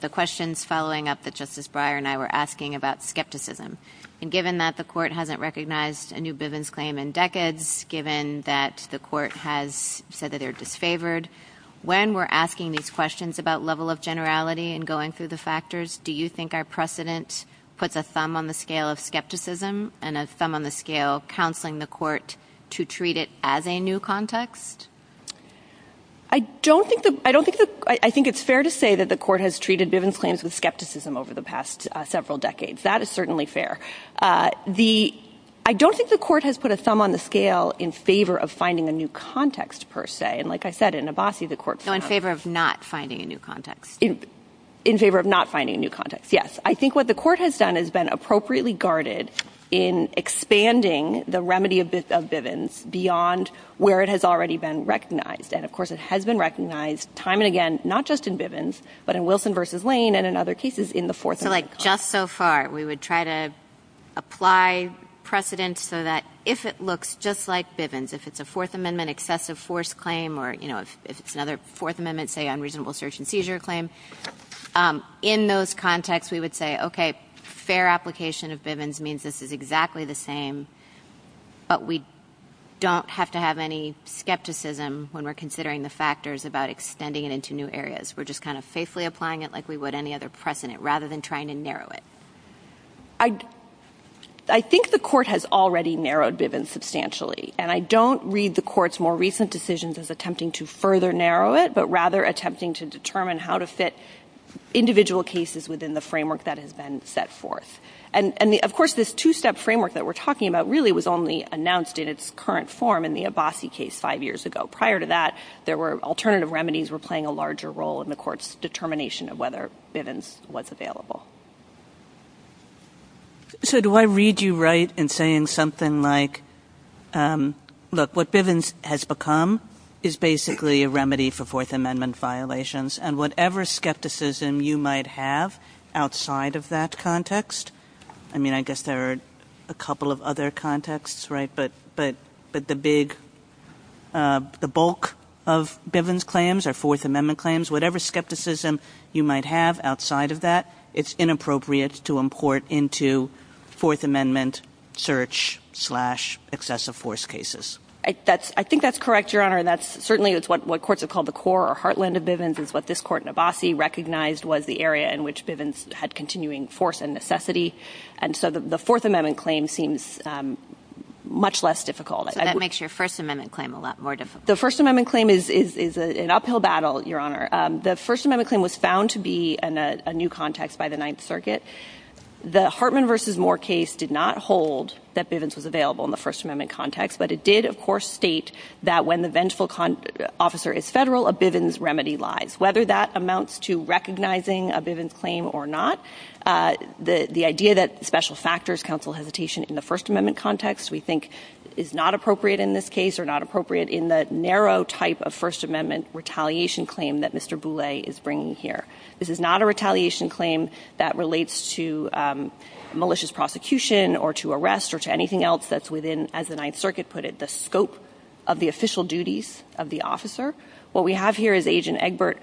the questions following up that Justice Breyer and I were asking about skepticism. And given that the court hasn't recognized a new Bivens claim in decades, given that the court has said that they're disfavored, when we're asking these questions about level of generality and going through the factors, do you think our precedent puts a thumb on the scale of skepticism and a thumb on the scale of counseling the court to treat it as a new context? I don't think the... I don't think the... I think it's fair to say that the court has treated Bivens claims with skepticism over the past several decades. That is certainly fair. The... I don't think the court has put a thumb on the scale in favor of finding a new context, per se. And like I said, in Abbasi, the court... No, in favor of not finding a new context. In favor of not finding a new context, yes. I think what the court has done has been appropriately guarded in expanding the remedy of Bivens beyond where it has already been recognized. And of course, it has been recognized time and again, not just in Bivens, but in Wilson v. Lane and in other cases in the Fourth Amendment. In those contexts, we would say, okay, fair application of Bivens means this is exactly the same, but we don't have to have any skepticism when we're considering the factors about extending it into new areas. We're just kind of faithfully applying it like we would any other precedent, rather than trying to narrow it. I think the court has already narrowed Bivens substantially, and I don't read the court's more recent decisions as attempting to further narrow it, but rather attempting to determine how to fit individual cases within the framework that has been set forth. And of course, this two-step framework that we're talking about really was only announced in its current form in the Abbasi case five years ago. Prior to that, alternative remedies were playing a larger role in the court's determination of whether Bivens was available. So do I read you right in saying something like, look, what Bivens has become is basically a remedy for Fourth Amendment violations, and whatever skepticism you might have outside of that context, I mean, I guess there are a couple of other contexts, right, but the bulk of Bivens claims or Fourth Amendment claims, whatever skepticism you might have outside of that, it's inappropriate to amend. I think that's correct, Your Honor, and that's certainly what courts have called the core or heartland of Bivens is what this court in Abbasi recognized was the area in which Bivens had continuing force and necessity, and so the Fourth Amendment claim seems much less difficult. That makes your First Amendment claim a lot more difficult. The First Amendment claim is an uphill battle, Your Honor. The First Amendment claim was found to be a new context by the Ninth Circuit. The Hartman v. Moore case did not hold that Bivens was available in the First Amendment context, but it did, of course, state that when the vengeful officer is federal, a Bivens remedy lies, whether that amounts to recognizing a Bivens claim or not. The idea that special factors counsel hesitation in the First Amendment context, we think, is not appropriate in this case or not appropriate in the narrow type of First Amendment retaliation claim that Mr. Boulay is bringing here. This is not a retaliation claim that relates to malicious prosecution or to arrest or to anything else that's within, as the Ninth Circuit put it, the scope of the official duties of the officer. What we have here is Agent Egbert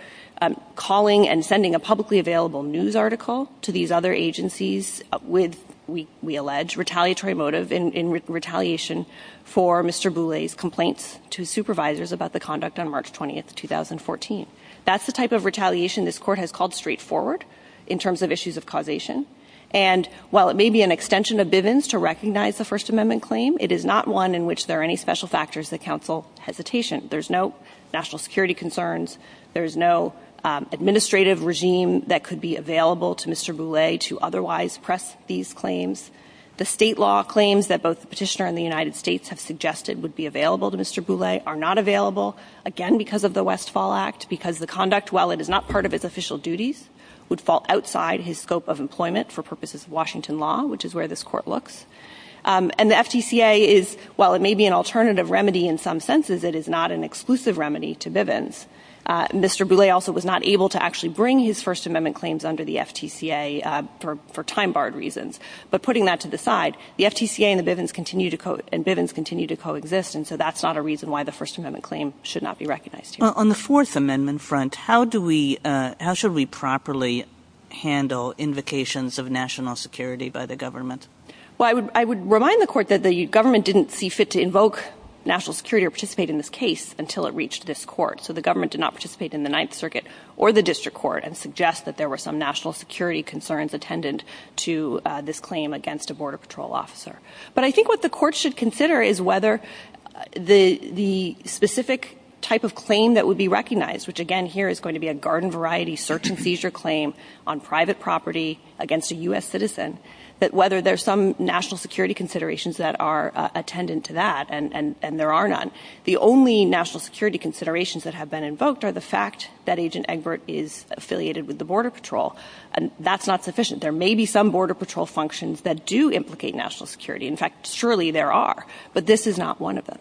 calling and sending a publicly available news article to these other agencies with, we allege, retaliatory motive in retaliation for Mr. Boulay's complaints to supervisors about the conduct on March 20, 2014. That's the type of retaliation this Court has called straightforward in terms of issues of causation. And while it may be an extension of Bivens to recognize the First Amendment claim, it is not one in which there are any special factors that counsel hesitation. There's no national security concerns. There's no administrative regime that could be available to Mr. Boulay to otherwise press these claims. The state law claims that both the petitioner and the United States have suggested would be available to Mr. Boulay are not available, again, because of the Westfall Act, because the conduct, while it is not part of its official duties, would fall outside his scope of employment for purposes of Washington law, which is where this Court looks. And the FTCA is, while it may be an alternative remedy in some senses, it is not an exclusive remedy to Bivens. Mr. Boulay also was not able to actually bring his First Amendment claims under the FTCA for time-barred reasons. But putting that to the side, the FTCA and Bivens continue to coexist, and so that's not a reason why the First Amendment claim should not be recognized here. On the Fourth Amendment front, how should we properly handle invocations of national security by the government? Well, I would remind the Court that the government didn't see fit to invoke national security or participate in this case until it reached this Court. So the government did not participate in the Ninth Circuit or the District Court and suggest that there were some national security concerns attendant to this claim against a Border Patrol officer. But I think what the Court should consider is whether the specific type of claim that would be recognized, which again here is going to be a garden-variety search-and-seizure claim on private property against a U.S. citizen, but whether there's some national security considerations that are attendant to that, and there are none. The only national security considerations that have been invoked are the fact that Agent Egbert is affiliated with the Border Patrol. That's not sufficient. There may be some Border Patrol functions that do implicate national security. In fact, surely there are, but this is not one of them.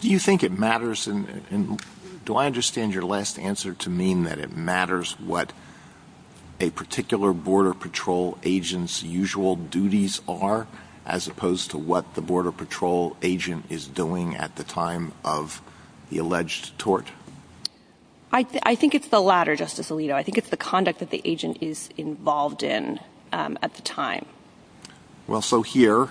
Do you think it matters, and do I understand your last answer to mean that it matters what a particular Border Patrol agent's usual duties are, as opposed to what the Border Patrol agent is doing at the time of the alleged tort? I think it's the latter, Justice Alito. I think it's the conduct that the agent is involved in at the time. Well, so here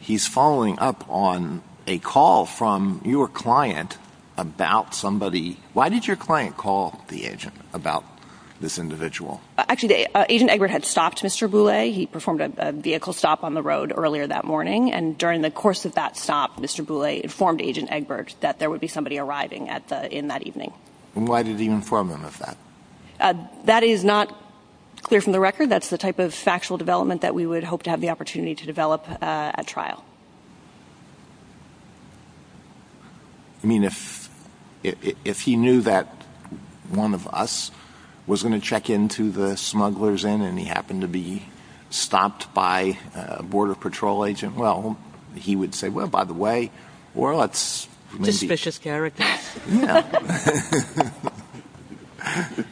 he's following up on a call from your client about somebody. Why did your client call the agent about this individual? Actually, Agent Egbert had stopped Mr. Boulay. He performed a vehicle stop on the road earlier that morning, and during the course of that stop, Mr. Boulay informed Agent Egbert that there would be somebody arriving in that evening. And why did he inform him of that? That is not clear from the record. That's the type of factual development that we would hope to have the opportunity to develop at trial. I mean, if he knew that one of us was going to check into the smugglers' inn, and he happened to be stopped by a Border Patrol agent, well, he would say, well, by the way, or let's maybe... Suspicious character.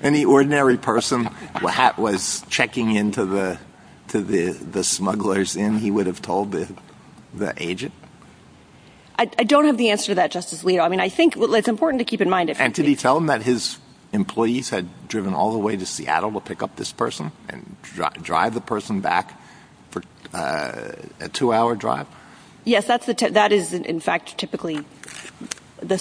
Any ordinary person that was checking into the smugglers' inn, he would have told the agent? I don't have the answer to that, Justice Alito. I mean, I think it's important to keep in mind... And did he tell him that his employees had driven all the way to Seattle to pick up this person and drive the person back for a two-hour drive? Yes, that is, in fact, typically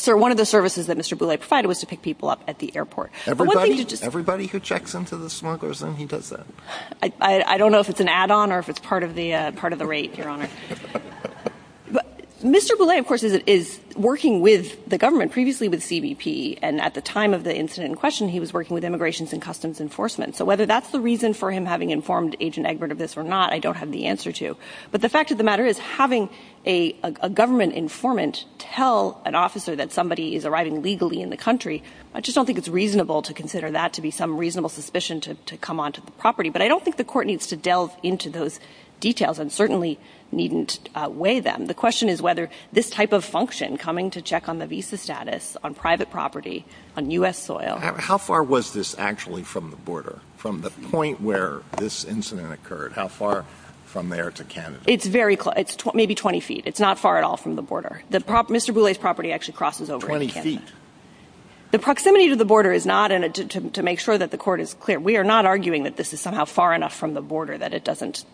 one of the services that Mr. Boulay provided was to pick people up at the airport. Everybody who checks into the smugglers' inn, he does that? I don't know if it's an add-on or if it's part of the rate, Your Honor. But Mr. Boulay, of course, is working with the government, previously with CBP, and at the time of the incident in question, he was working with Immigration and Customs Enforcement. So whether that's the reason for him having informed Agent Egbert of this or not, I don't have the answer to. But the fact of the matter is, having a government informant tell an officer that somebody is arriving legally in the country, I just don't think it's reasonable to consider that to be some reasonable suspicion to come onto the property. But I don't think the court needs to delve into those details and certainly needn't weigh them. The question is whether this type of function, coming to check on the visa status, on private property, on U.S. soil... It's very close. It's maybe 20 feet. It's not far at all from the border. Mr. Boulay's property actually crosses over. 20 feet? The proximity to the border is not an addition to make sure that the court is clear. We are not arguing that this is somehow far enough from the border that it doesn't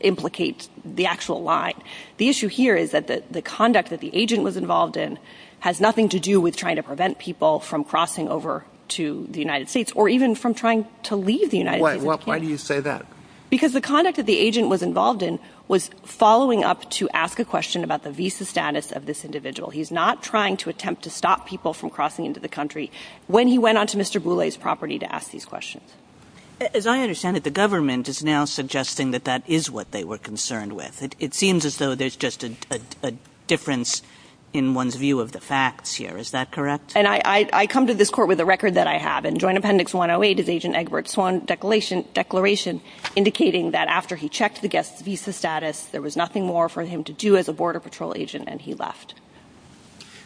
implicate the actual line. The issue here is that the conduct that the agent was involved in has nothing to do with trying to prevent people from crossing over to the United States or even from trying to leave the United States. Why do you say that? Because the conduct that the agent was involved in was following up to ask a question about the visa status of this individual. He's not trying to attempt to stop people from crossing into the country when he went onto Mr. Boulay's property to ask these questions. As I understand it, the government is now suggesting that that is what they were concerned with. It seems as though there's just a difference in one's view of the facts here. Is that correct? I come to this court with a record that I have. Joint Appendix 108 is Agent Egbert's own declaration indicating that after he checked the guest's visa status, there was nothing more for him to do as a Border Patrol agent and he left.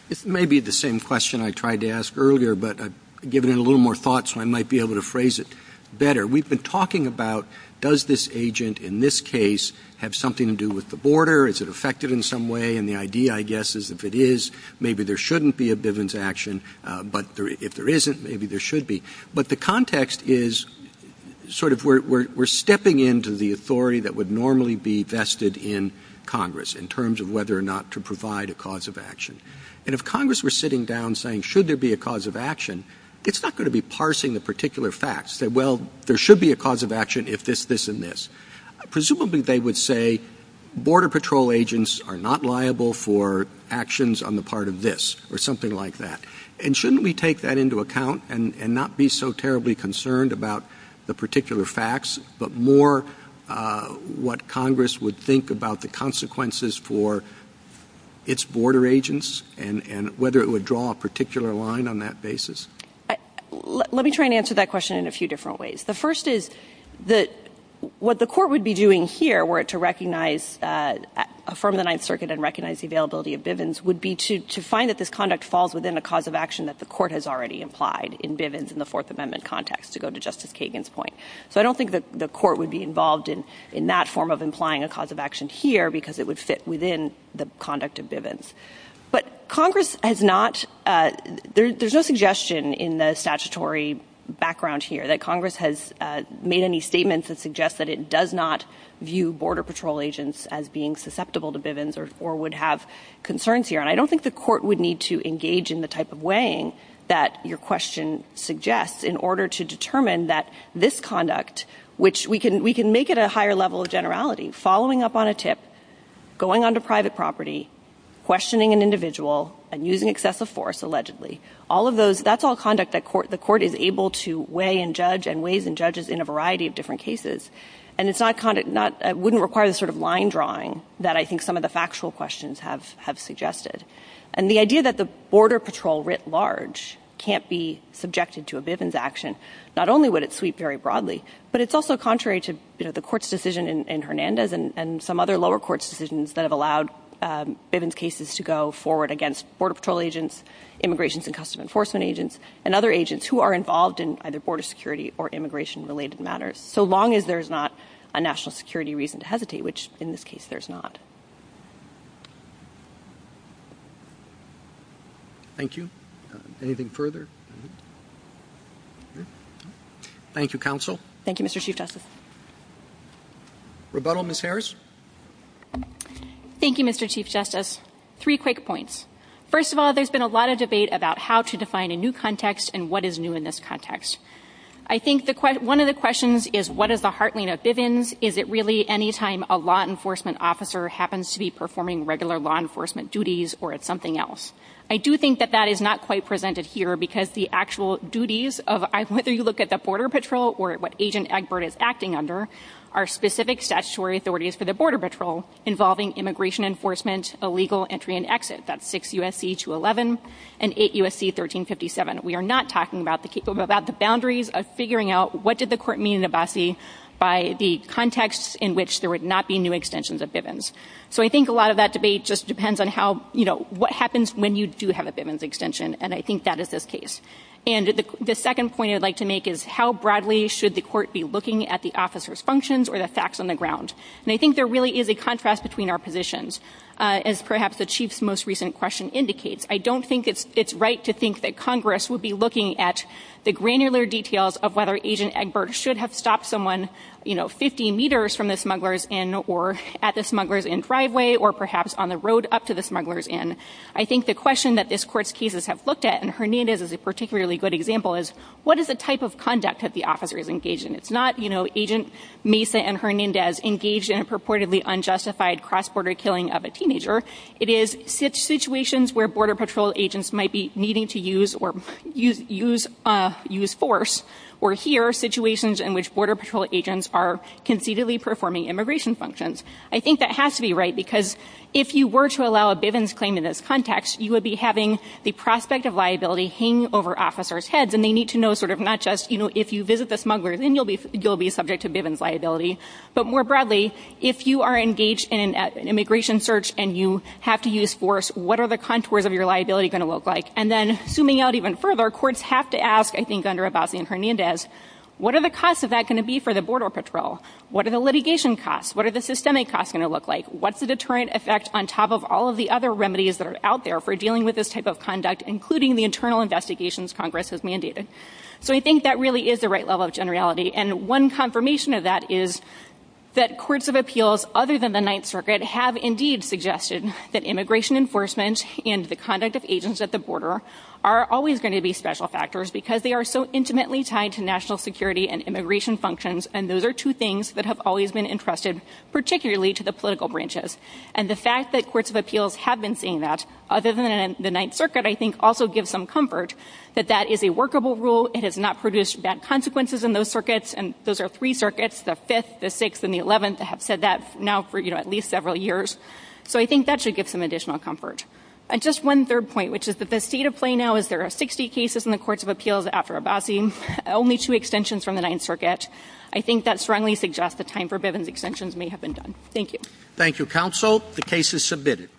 This may be the same question I tried to ask earlier, but I've given it a little more thought so I might be able to phrase it better. We've been talking about does this agent in this case have something to do with the border? Is it affected in some way? And the idea, I guess, is if it is, maybe there shouldn't be a Bivens action. But if there isn't, maybe there should be. But the context is sort of we're stepping into the authority that would normally be vested in Congress in terms of whether or not to provide a cause of action. And if Congress were sitting down saying should there be a cause of action, it's not going to be parsing the particular facts. Well, there should be a cause of action if this, this, and this. Presumably they would say Border Patrol agents are not liable for actions on the part of this or something like that. And shouldn't we take that into account and not be so terribly concerned about the particular facts but more what Congress would think about the consequences for its border agents and whether it would draw a particular line on that basis? Let me try and answer that question in a few different ways. The first is that what the court would be doing here were it to recognize, affirm the Ninth Circuit and recognize the availability of Bivens would be to find that this conduct falls within a cause of action that the court has already implied in Bivens in the Fourth Amendment context to go to Justice Kagan's point. So I don't think that the court would be involved in that form of implying a cause of action here because it would fit within the conduct of Bivens. But Congress has not, there's no suggestion in the statutory background here that Congress has made any statements that suggest that it does not view Border Patrol agents as being susceptible to Bivens or would have concerns here. And I don't think the court would need to engage in the type of weighing that your question suggests in order to determine that this conduct, which we can make it a higher level of generality, following up on a tip, going onto private property, questioning an individual, and using excessive force allegedly. All of those, that's all conduct that the court is able to weigh and judge and weighs and judges in a variety of different cases. And it's not, wouldn't require the sort of line drawing that I think some of the factual questions have suggested. And the idea that the Border Patrol writ large can't be subjected to a Bivens action, not only would it sweep very broadly, but it's also contrary to the court's decision in Hernandez and some other lower courts decisions that have allowed Bivens cases to go forward against Border Patrol agents, Immigration and Customs Enforcement agents, and other agents who are involved in either border security or immigration related matters. So long as there's not a national security reason to hesitate, which in this case, there's not. Thank you. Anything further? Thank you, counsel. Thank you, Mr. Chief Justice. Rebuttal Ms. Harris. Thank you, Mr. Chief Justice. Three quick points. First of all, there's been a lot of debate about how to define a new context and what is new in this context. I think one of the questions is what is the heartland of Bivens? Is it really any time a law enforcement officer happens to be performing regular law enforcement duties or it's something else? I do think that that is not quite presented here because the actual duties of whether you look at the Border Patrol or what Agent Egbert is acting under are specific statutory authorities for the Border Patrol involving immigration enforcement, illegal entry and exit. That's 6 USC 211 and 8 USC 1357. We are not talking about the boundaries of figuring out what did the court mean in Abbasi by the context in which there would not be new extensions of Bivens. So I think a lot of that debate just depends on what happens when you do have a Bivens extension, and I think that is the case. And the second point I'd like to make is how broadly should the court be looking at the officer's functions or the facts on the ground? And I think there really is a contrast between our positions. As perhaps the chief's most recent question indicates, I don't think it's right to think that Congress would be looking at the granular details of whether Agent Egbert should have stopped someone 50 meters from the smugglers in or at the smugglers in driveway or perhaps on the road up to the smugglers in. I think the question that this court's cases have looked at, and Hernandez is a particularly good example, is what is the type of conduct that the officer is engaged in? It's not Agent Mesa and Hernandez engaged in a purportedly unjustified cross-border killing of a teenager. It is situations where Border Patrol agents might be needing to use force, or here, situations in which Border Patrol agents are conceitedly performing immigration functions. I think that has to be right, because if you were to allow a Bivens claim in this context, you would be having the prospect of liability hang over officers' heads, and they need to know sort of not just, you know, if you visit the smugglers, then you'll be subject to Bivens liability. But more broadly, if you are engaged in an immigration search and you have to use force, what are the contours of your liability going to look like? And then, zooming out even further, courts have to ask, I think, under About Me and Hernandez, what are the costs of that going to be for the Border Patrol? What are the litigation costs? What are the systemic costs going to look like? What's the deterrent effect on top of all of the other remedies that are out there for dealing with this type of conduct, including the internal investigations Congress has mandated? So I think that really is the right level of generality. And one confirmation of that is that courts of appeals, other than the Ninth Circuit, have indeed suggested that immigration enforcement and the conduct of agents at the border are always going to be special factors because they are so intimately tied to national security and immigration functions. And those are two things that have always been entrusted particularly to the political branches. And the fact that courts of appeals have been saying that, other than the Ninth Circuit, I think also gives some comfort that that is a workable rule. It has not produced bad consequences in those circuits. And those are three circuits, the Fifth, the Sixth, and the Eleventh, that have said that now for at least several years. So I think that should give some additional comfort. And just one third point, which is that the seat of play now is there are 60 cases in the courts of appeals after About Me, only two extensions from the Ninth Circuit. I think that strongly suggests that time for Bivens extensions may have been done. Thank you. Thank you, counsel. The case is submitted.